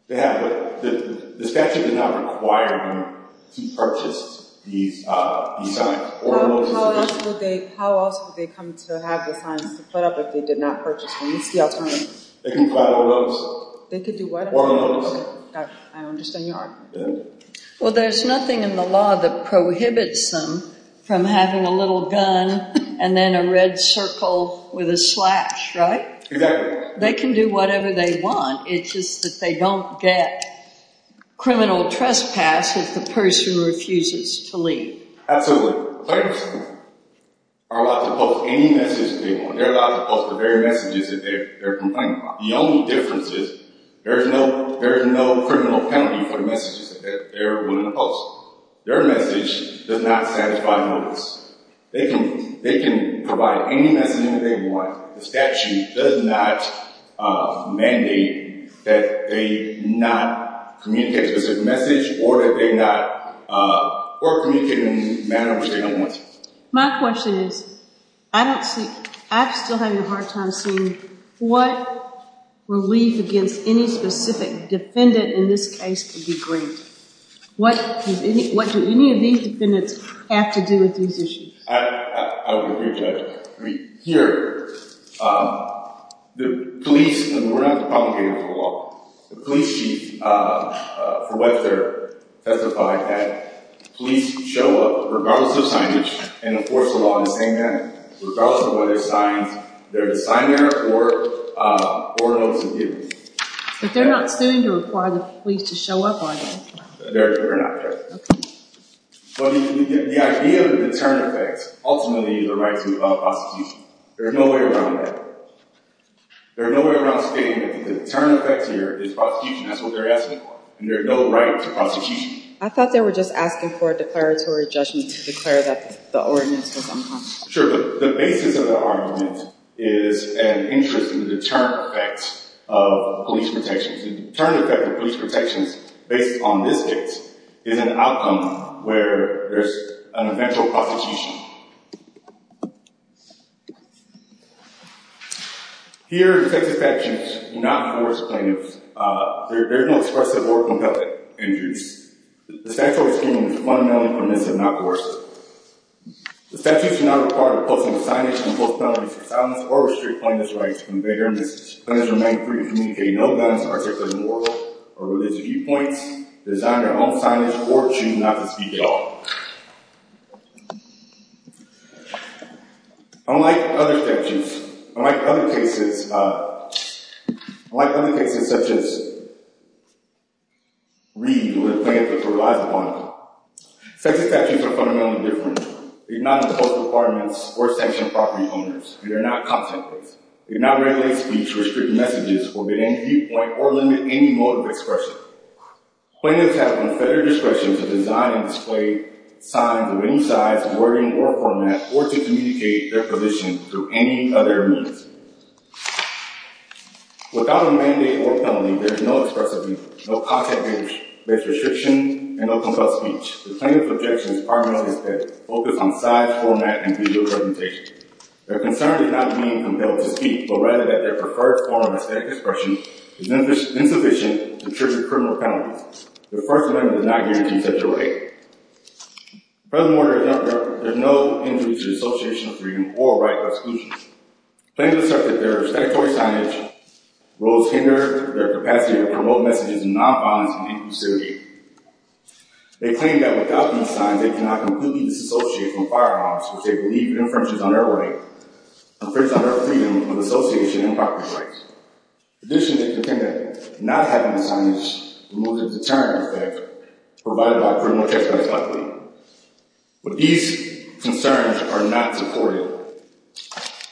They have, but the statute does not require them to purchase these items. How else would they come to have the time to fill out if they did not purchase them? They can file a loan. They can do what? Oral notice. I understand your argument. Well, there's nothing in the law that prohibits them from having a little gun and then a red circle with a slash, right? Exactly. They can do whatever they want. It's just that they don't get criminal trespass if the person refuses to leave. Absolutely. Clients are allowed to post any messages they want. They're allowed to post the very messages that they're complaining about. The only difference is there is no criminal penalty for messages that they're willing to post. Their message does not satisfy notice. They can provide any message that they want. The statute does not mandate that they not communicate a specific message or that they not communicate in a manner that they don't want to. My question is, I still have a hard time seeing what relieves against any specific defendant in this case to be briefed. What do any of these defendants have to do with these issues? I would agree, Judge. Here, the police, and we're going to have to propagate this in the law, the police chief for what they're testifying at, police show up, regardless of signage, and enforce the law on the defendant, regardless of whether it's signed, they're there to sign their report or to do. But they're not sent in to acquire the police to show up, are they? They're not there. The idea is a deterrent effect, ultimately, the right to prosecution. There's no way around that. There's no way around saying that the deterrent effect here is prosecution. That's what they're asking for, and there's no right to prosecution. I thought they were just asking for a declaratory judgment to declare that the ordinance is unconstitutional. Sure, but the basis of the argument is an interest in the deterrent effect of police protection. The deterrent effect of police protection, based on this case, is an outcome where there's an eventual prosecution. Here, the defective sections do not enforce claims. They're very much expressive or compelling. The defective section is fundamentally condemned to not enforce it. Defective sections do not require the closing of signage, the book selling, or restrict plaintiff's rights to convey arguments. Claimants are made free to communicate no violence, articulate no war, or release a viewpoint, design their own signage, or choose not to speak at all. Unlike other cases, such as Reed, where the plaintiff provided one, defective sections are fundamentally different. They do not impose requirements or sanction property owners. They are not contemplated. They do not regulate speech or restrict messages or limit any mode of expression. Claimants have no further discretion to design and display their own signage. Signs of any size, wording, or format, or to communicate their position through any other means. Without a mandate or felony, there is no expressiveness, no contact information, no restriction, and no compulsion. The plaintiff objects to requirements that focus on size, format, and video presentation. Their concern is not being compelled to speak, but rather that their preferred form of expression is insufficient to trigger criminal felony. The first amendment does not guarantee such a right. Furthermore, there is no implication of dissociation of freedom or right by exclusion. Claimants accept that their respect for a signage will hinder their capacity to promote messages and not violence and deconstitution. They claim that without such a sign, they cannot conclusively dissociate from firearms, which they believe infringes on their right, infringes on their freedom from dissociation and cartridge rights. Additionally, the claimant not having a signage removes the deterrence effect provided by criminal cartridge rights. But these concerns are not supported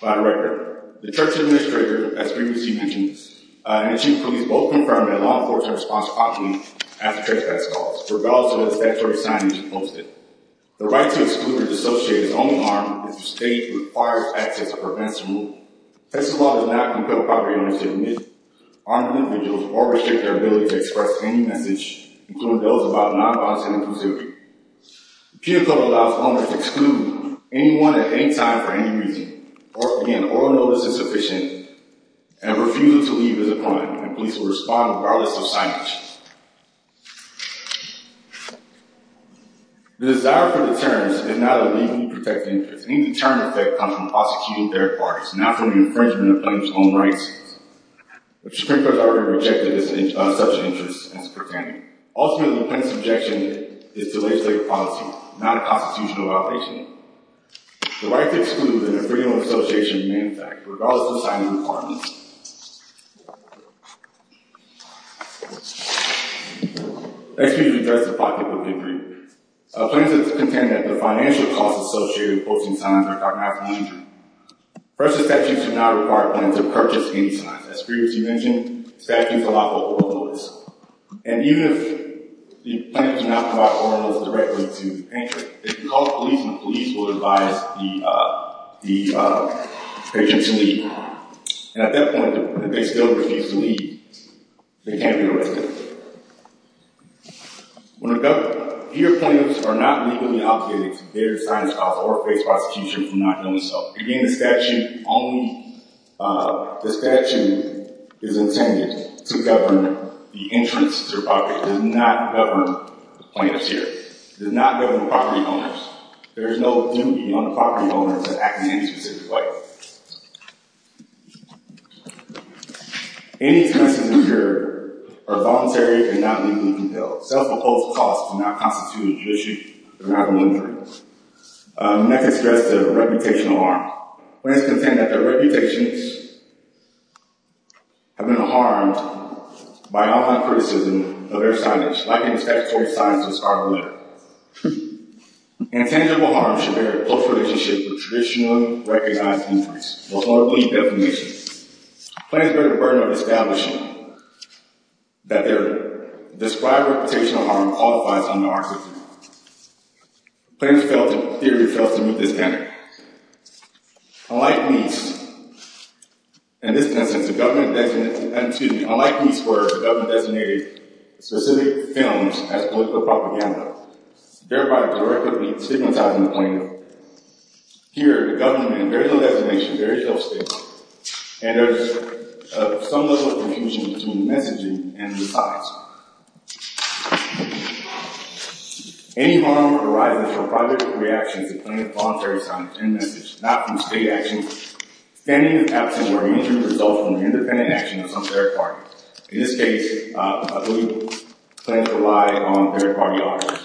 by the record. The church administrator, as previously mentioned, and the chief of police both confirmed that a law enforcement response option has a cartridge rights clause, regardless of the statutory signage posted. The right to exclude and dissociate his own arm is a state-required action to prevent this rule. The text of the law does not clarify the right to exclude armed individuals or restrict their ability to express any message, including those about non-violence in their pursuit. The key to this law is to only exclude anyone at any time for any reason, or if the man or woman is insufficient, and refuses to leave his apartment, the police will respond regardless of signage. The desire for deterrence does not immediately protect him. Any deterrence effect comes from prosecuting their parties, not from the infringement of their own rights. The Supreme Court has never rejected such an injustice against their family. Ultimately, the plaintiff's objection is to legislate a policy, not a constitutional violation. The right to exclude is an agreement with the association in the impact, regardless of time and environment. Next, we will discuss the political contribution. Plaintiffs contend that the financial costs associated with forcing time are malfinant. First, the plaintiffs are not required to purchase any time. As previously mentioned, the plaintiffs allow both orders. And even if the plaintiffs do not provide all orders directly to the painter, they can call the police, and the police will advise the painter to leave. At that point, if they still refuse to leave, they can't be arrested. When a government, either plaintiffs are not legally obligated to pay their Again, the statute only, the statute is intended to govern the interests of the public. It does not govern the plaintiffs' share. It does not govern the property owners. There is no opportunity for one of the property owners to act in the interests of the public. Any attempts to be heard are voluntary if they're not legally compelled. Self-imposed costs do not constitute an issue. They're not a military issue. Plaintiffs' threats of reputational harm. Plaintiffs contend that their reputations have been harmed by online criticism of their silence. I think the statutory silence is problematic. Intangible harm should vary in both relationships with traditional recognized injuries. Those are only definitions. Plaintiffs bear the burden of establishing that their described reputational harm qualifies as an arson. Plaintiffs' theory fails to meet this standard. Unlike these, in this instance, the government designated specific films as political propaganda, thereby deliberately stigmatizing the plaintiff. Here, the government has a very low definition, very low skill, and there is some level of confusion between the messaging and the facts. Any harm arising from public reaction to plaintiff's voluntary contentment is not considered action. Plaintiff's action will remain as a result of an independent action of some third party. In this case, a legal claim relies on third party authors.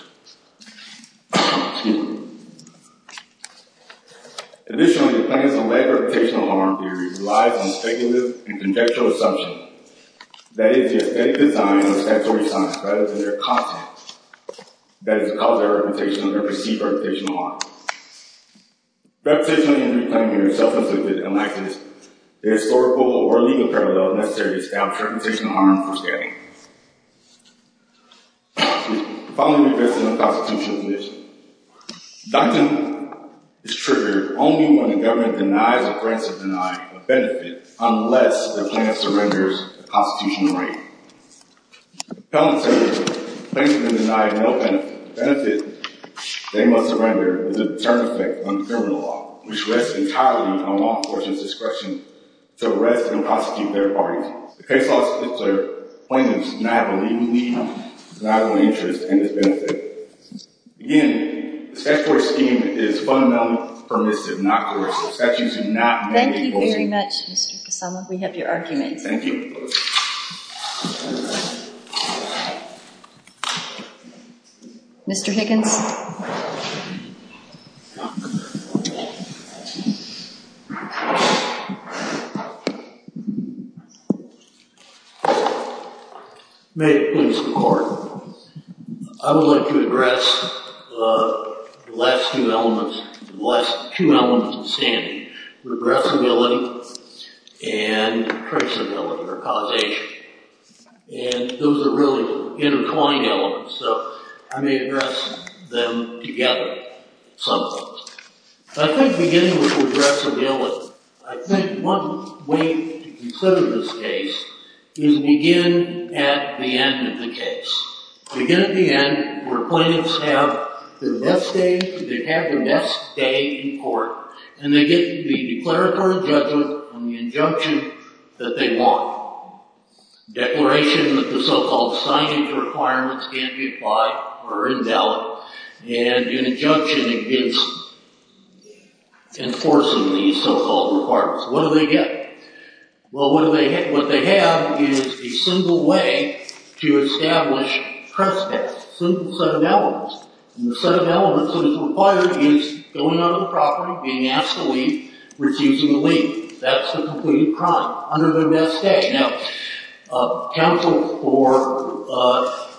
Additionally, plaintiff's lack of reputational harm theory relies on speculative and conjectural assumptions. That is, they have taken time in the statutory silence. That is, they are constant. That is a cause of reputational or perceived reputational harm. Reputationally and reclaiming themselves is disconnected. The historical or legal parallels necessary to establish reputational harm are misguided. Finally, there is a constitutional condition. Doctrine is triggered only when the government denies or threatens to deny a benefit unless the plaintiff surrenders the constitutional right. Plaintiff may deny no benefit. If the plaintiff does not surrender, there is a deterrent effect on the government law, which rests entirely on law enforcement's discretion to arrest and prosecute their parties. If they prosecute, the plaintiff does not have a legal need, does not have an interest in this benefit. In the end, the statutory scheme is fundamentally permissive, not juridical. Factions do not make legal decisions. Thank you very much, Mr. Kusama. We hope you are tonight. Thank you. Mr. Higgins. I would like to address the last two elements, the last two elements of the I think beginning with the address of the elements. I think one way to consider this case is begin at the end of the case. Begin at the end where plaintiffs have their best day in court and they get to the declaratory judgment on the injunction that they want. Declaration that the so-called signage requirements can't be applied or invalid. And the injunction enforces these so-called requirements. What do they get? Well, what they have is a simple way to establish trespass. Simple set of elements. And the set of elements that is required is going on the property, being asked to leave, refusing to leave. That's the complete crime under their best day. Now, counsel for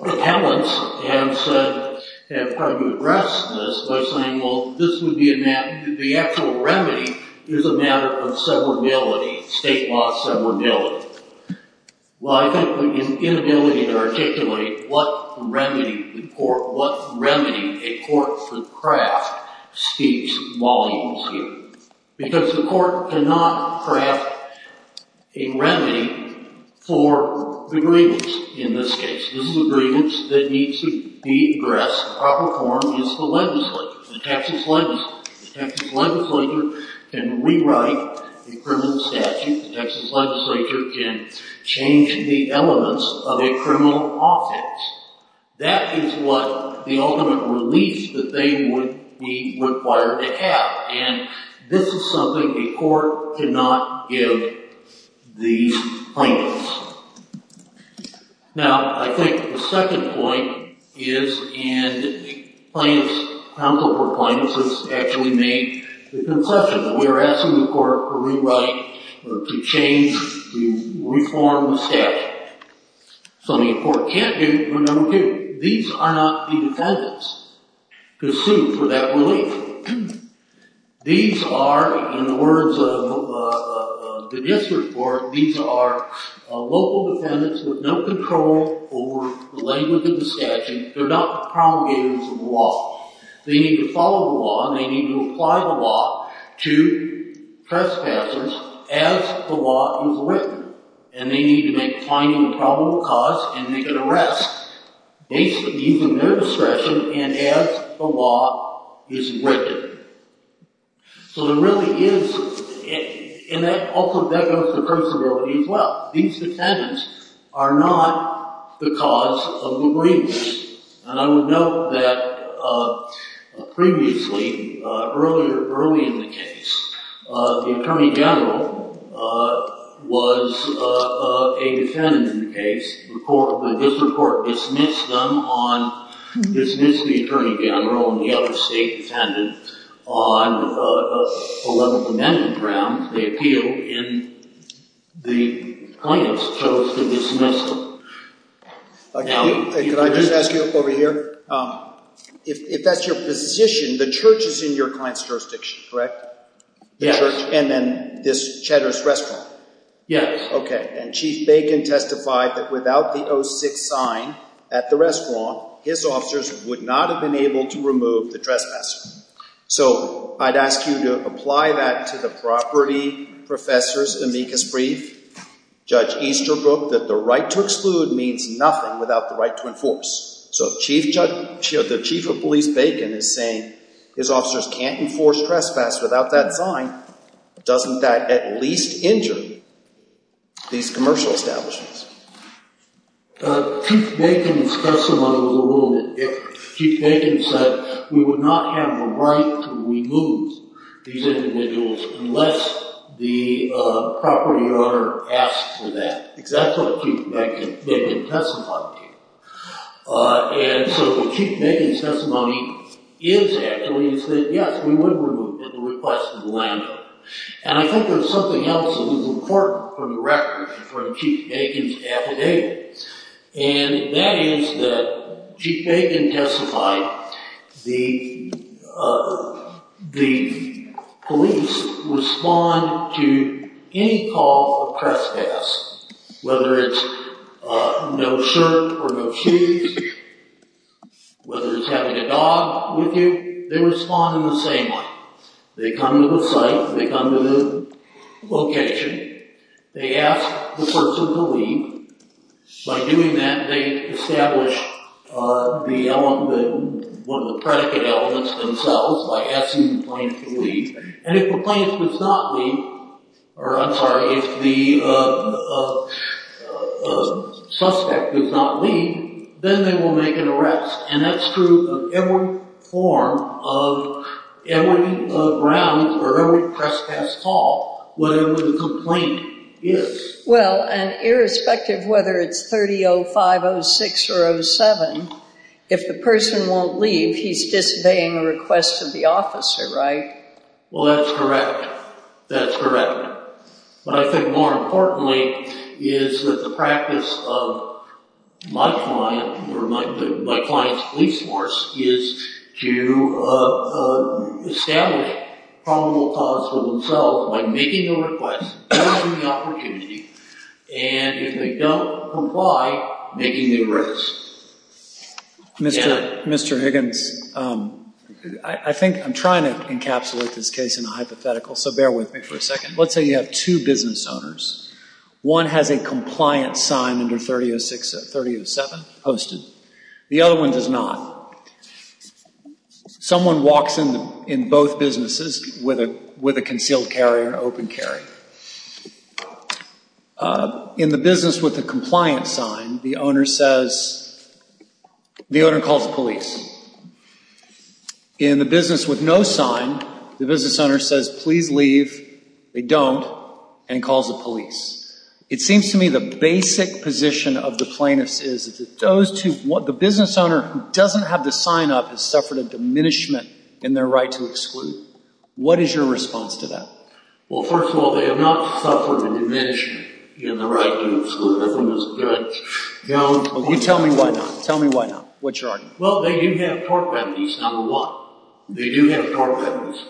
appellants have said, have tried to address this by saying, well, this would be a, the actual remedy is a matter of severability, state law severability. Well, I think we can invalidate or articulate what remedy the court, what remedy a court could craft seeks while he is here. Because the court cannot craft a remedy for the grievance in this case. This is a grievance that needs to be addressed. The proper form is the legislature, the Texas legislature. The Texas legislature can rewrite the criminal statute. The Texas legislature can change the elements of a criminal offense. That is what the ultimate relief that they would be required to have. And this is something the court cannot give these plaintiffs. Now, I think the second point is, and plaintiffs, counsel for plaintiffs, has actually made the concession that we are asking the court to rewrite, to change, to reform the statute. So the court can't do it when there are no people. These are not independents to sue for that relief. These are, in the words of the district court, these are local dependents with no control over the language of the statute. They're not promulgators of the law. They need to follow the law and they need to apply the law to trespassers as the law is written. And they need to make finding a probable cause and make an arrest. They can use their discretion and act as the law is written. So there really is, and that also goes to personability as well. These dependents are not the cause of the relief. And I will note that previously, earlier, early in the case, the attorney general was a defendant in the case. The district court dismissed them on, dismissed the attorney general and the other state defendant on 11th Amendment grounds. They appealed and the plaintiffs chose to dismiss them. Now, can I just ask you this over here? If that's your position, the truth is in your client's jurisdiction, correct? Yes. And then this Cheddar's Crestwound? Yes. Okay. And Chief Bacon testified that without the 06 sign at the Crestwound, his officers would not have been able to remove the trespasser. So I'd ask you to apply that to the property professors' amicus brief. Judge Easterbrook, that the right to exclude means nothing without the right to enforce. So the Chief of Police Bacon is saying his officers can't enforce trespass without that sign. Doesn't that at least injure these commercial establishments? Chief Bacon's testimony was a little bit different. Chief Bacon said we would not have a right to remove these individuals unless the property owner asked for that. That's what Chief Bacon testified to. And so Chief Bacon's testimony is actually that, yes, we would remove them if the request was landed. And I think there's something else that was important from the record from Chief Bacon's affidavit, and that is that Chief Bacon testified the police respond to any call for trespass, whether it's no shirt or no shoes, whether it's having a dog with you. They respond in the same way. They come to the site. They come to the location. They ask the person to leave. By doing that, they establish one of the predicate elements themselves by asking the plaintiff to leave. And if the plaintiff does not leave, or I'm sorry, if the suspect does not leave, then they will make an arrest. And that's true of every form of every round or every trespass call, whatever the complaint is. Well, and irrespective of whether it's 30-05, 06, or 07, if the person won't leave, he's disobeying the request of the officer, right? Well, that's correct. That's correct. But I think more importantly is that the practice of my client or my client's police force is to establish probable cause for themselves by making the request, and if they don't comply, making the arrest. Mr. Higgins, I think I'm trying to encapsulate this case in a hypothetical, so bear with me for a second. Let's say you have two business owners. One has a compliant sign under 30-07 posted. The other one does not. Someone walks in both businesses with a concealed carry or open carry. In the business with a compliant sign, the owner says, the owner calls the police. In the business with no sign, the business owner says, please leave, they don't, and calls the police. It seems to me the basic position of the plaintiff is that those two, the business owner who doesn't have the sign up has suffered a diminishment in their right to exclude. What is your response to that? Well, first of all, they have not suffered a diminishment in their right to exclude. Tell me why not. What's your argument? Well, they do have tort penalties, number one. They do have tort penalties.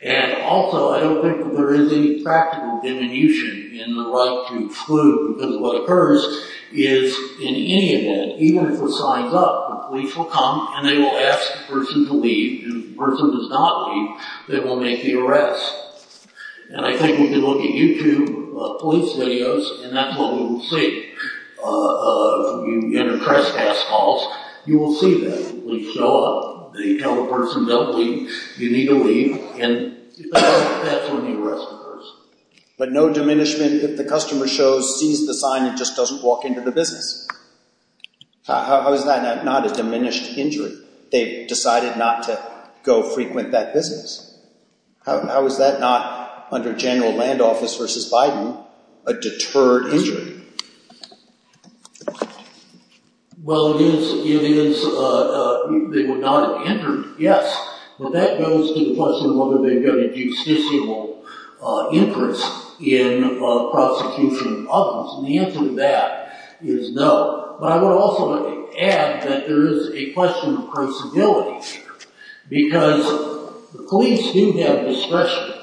And also, I don't think there is any practical diminution in their right to exclude, because what occurs is in any event, even if they're signed up, the police will come and they will ask the person to leave. If the person does not leave, they will make the arrest. And I think if you look at YouTube police videos, and that's what we will see in the press pass calls, you will see that the police show up. They tell the person, no, you need to leave, and that's when you arrest the person. But no diminishment if the customer shows, sees the sign and just doesn't walk into the business. How is that not a diminished injury? They decided not to go frequent that business? How is that not, under general land office versus Biden, a deterred injury? Well, it is not a hindrance, yes. But that goes to the question of whether they've got a justiciable interest in prosecuting others. And the answer to that is no. But I would also like to add that there is a question of possibility, because the police do have discretion.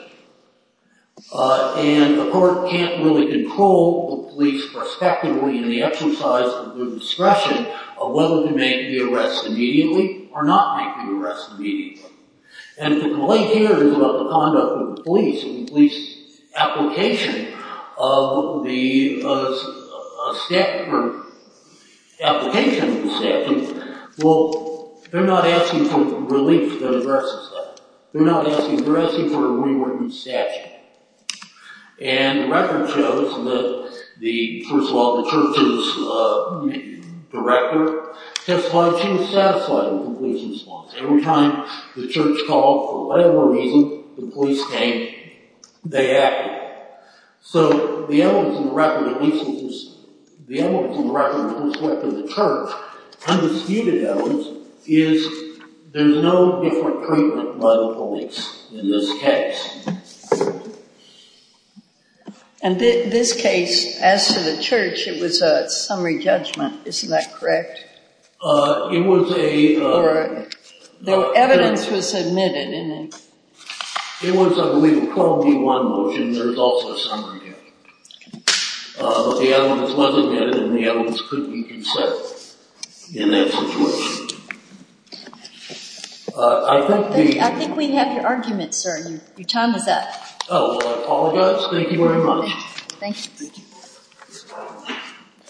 And the court can't really control the police prospectively in the exercise of their discretion of whether they may be arrested immediately or not may be arrested immediately. And the play here is about the conduct of the police and the police application of the statute, or application of the statute. Well, they're not asking for relief to the arrest system. They're not asking for a rewritten statute. And the record shows that the, first of all, the church's director just wanted to satisfy the police response. Every time the church called, for whatever reason, the police came, they acted. So the evidence in the record of the police instance, the evidence in the record of the police record of the church, undisputed evidence, is there's no different treatment by the police in this case. And this case, as to the church, it was a summary judgment. Isn't that correct? It was a. All right. The evidence was admitted in it. It was, I believe, a column D1 motion. There's also a summary judgment. But the evidence wasn't admitted, and the evidence couldn't be consented in that situation. I think we have your argument, sir. Your time is up. Oh. Thank you very much. Thank you.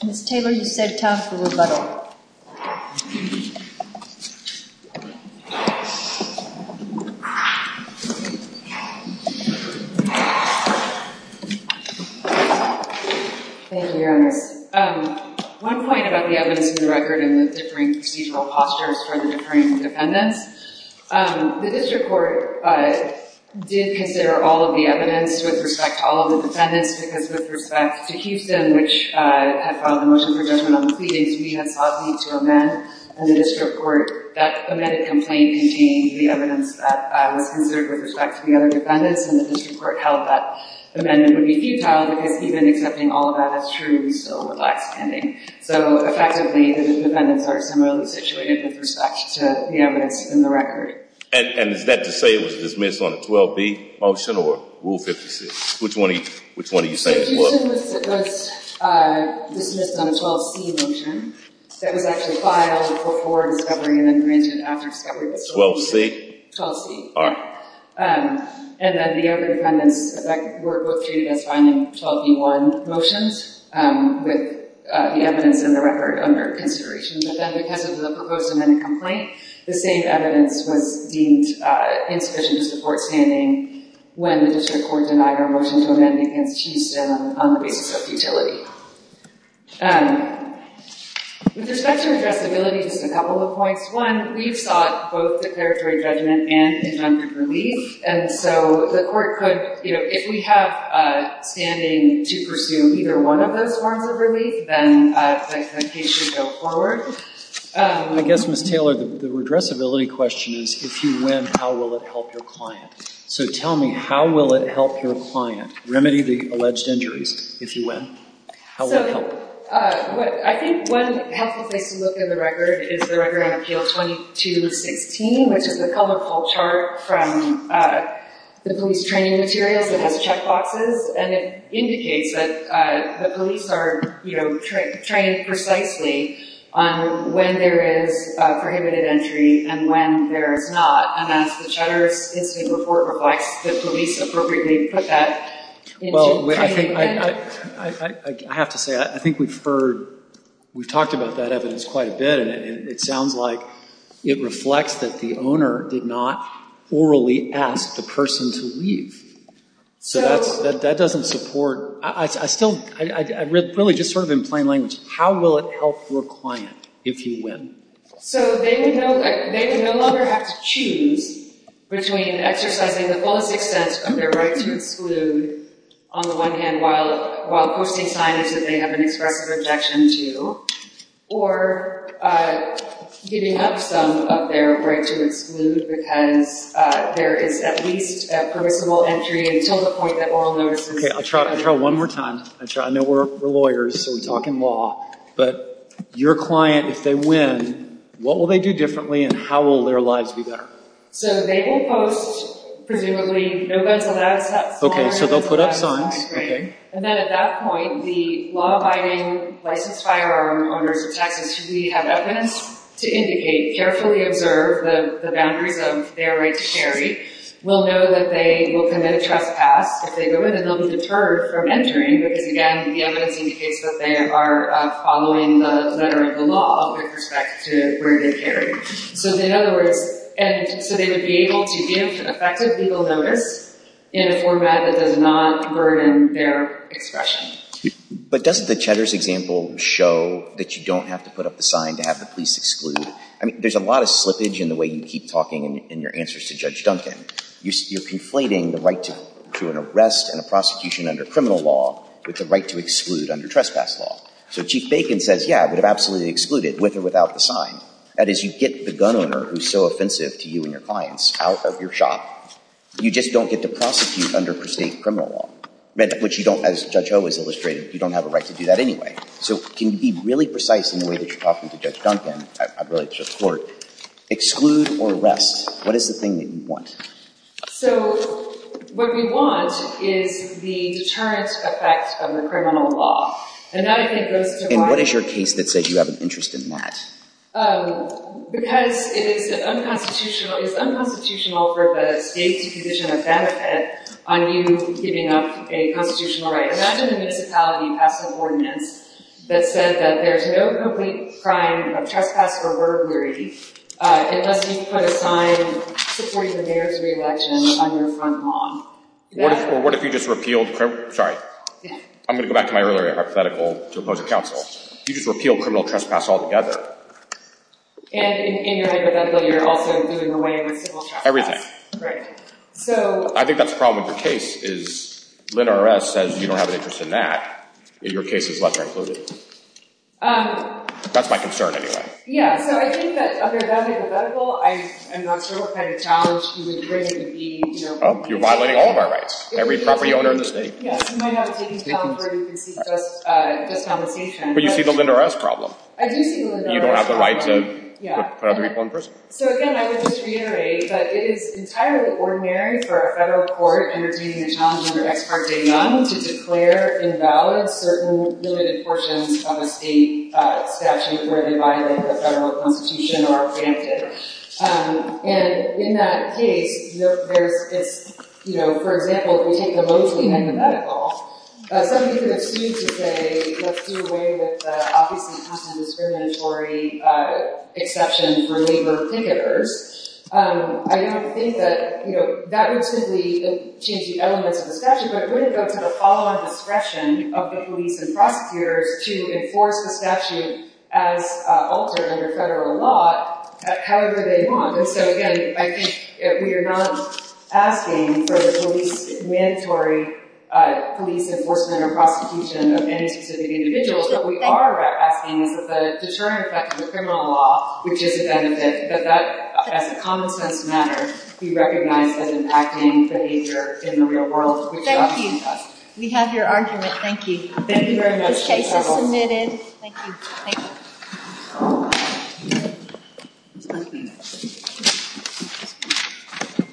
Ms. Tabor, you've saved time for rebuttal. Thank you, Your Honor. One point about the evidence in the record and the differing procedural postures from the Supreme Defendant. The district court did consider all of the evidence with respect to all of the defendants, because with respect to Houston, which had filed a motion for judgment on pleading, to be an outlet to amend. And the district court, that submitted complaint, contained the evidence that was considered with respect to the other defendants. And the district court held that the defendant would be detailed, because he'd been accepting all of that, that's true until the last hearing. So, effectively, the district defendants are similarly situated in respect to the evidence in the record. And is that to say it was dismissed on a 12-B motion or Rule 56? Which one are you saying it was? It was dismissed on a 12-C motion. It was actually filed before discovery and then reintroduced after discovery. 12-C? 12-C. All right. And then the other defendants were located on a 12-B-1 motion, with the evidence in the record under consideration. But then, because of the proposed amendment complaint, the same evidence would be insufficient to support standing when the district court denied a motion to amend, because she's been on the basis of futility. With respect to adjustability, there's a couple of points. One, we've got both preparatory judgment and injunctive relief. And so the court said, you know, if we have standing to pursue either one of those forms of relief, then the case should go forward. I guess, Ms. Taylor, the addressability question is, if you win, how will it help your client? So tell me, how will it help your client? Remedy the alleged injuries if you win. How will it help? I think one has to take a look at the record. It's the record of Jail 22-16, which is a colorful chart from the police training experience. It has checkboxes. And it indicates that the police are, you know, trained precisely on when there is a prohibited entry and when there is not. And as the chatter in the report reflects, the police appropriately put that. Well, I have to say, I think we've heard, we've talked about that evidence quite a bit, and it sounds like it reflects that the owner did not orally ask the That doesn't support. I still, really just sort of in plain language, how will it help your client if you win? So they no longer have to choose between exercising the fullest expense of their right to exclude, on the one hand, while posting signs that they have an incorrect objection to, or giving up some of their right to exclude because there is at least a peripheral entry Okay, I'll try one more time. I know we're lawyers, so we talk in law, but your client, if they win, what will they do differently and how will their lives be better? So they will post, presumably, Okay, so they'll put up signs, okay. And then at that point, the law-abiding licensed firearm owner's attachment should be had evidence to indicate, carefully observe, the boundaries of their right to share. will know that they will commit a trespass. If they go in, they'll be deterred from entering because, again, they'll be able to indicate that they are following the letter of the law with respect to their right to carry. So, in other words, they would be able to give an effective legal number in a format that does not burden their expression. But doesn't the Cheddar's example show that you don't have to put up the sign to have the police exclude? I mean, there's a lot of slippage in the way you keep talking in your answers to Judge Duncan. You're conflating the right to an arrest and a prosecution under criminal law with the right to exclude under trespass law. So if Chief Bacon says, Yeah, I would absolutely exclude it, with or without the sign. That is, you get the gun owner, who's so offensive to you and your clients, out of your shop. You just don't get to prosecute under per se criminal law, which you don't, as Judge O has illustrated, you don't have a right to do that anyway. So can you be really precise in the way that you're talking to Judge Duncan, exclude or arrest? What is the thing that you want? So, what we want is the deterrence effect of the criminal law. And what is your case that says you have an interest in that? Because it is unconstitutional, it is unconstitutional for the state to position a benefit on you giving up a constitutional right. Imagine a municipality passing an ordinance that says that there's no complete crime of trespass or burglary unless you put a sign supporting the nearest re-election under criminal law. What if you just repealed criminal... Sorry. I'm going to go back to my earlier hypothetical to oppose a counsel. You just repealed criminal trespass altogether. And in your case, you're also doing away with civil trespass. Everything. Right. I think that's the problem with your case, is Lynn R. S. says you don't have an interest in that. Your case is left uncluded. That's my concern, anyway. So, I think that under that hypothetical, I'm not sure what kind of challenge you would bring to the... You're violating all of our rights. Every property owner in the state. Yeah. You might not be in California because you're just on location. But you see the Lynn R. S. problem. I do see Lynn R. S. problem. You don't have the right to... Yeah. ...reform prison. So, again, I would just reiterate that it is entirely ordinary for a federal court for intervening in a challenge under X.R. Day Young to declare invalid a certain limited portion of a state statute where it violates the federal constitution or our advantages. And in that case, where it's, you know, for example, we have the voting and the medical, some of you accused today that you're doing away with the obviously undeterminatory exceptions for labor particulars. I don't think that, you know, that would simply change the elements of the statute. But it wouldn't go through the follow-up expression of the police and prosecutor to enforce the statute as altered under federal law however they want. So, again, I think we are not asking for mandatory police enforcement or prosecution of any specific individual. But we are asking for the deterring effect under federal law, which is the same as this. So that's, as a condescending matter, we recognize as impacting behavior in the real world. Thank you. We have your argument. Thank you. This case is submitted. Thank you.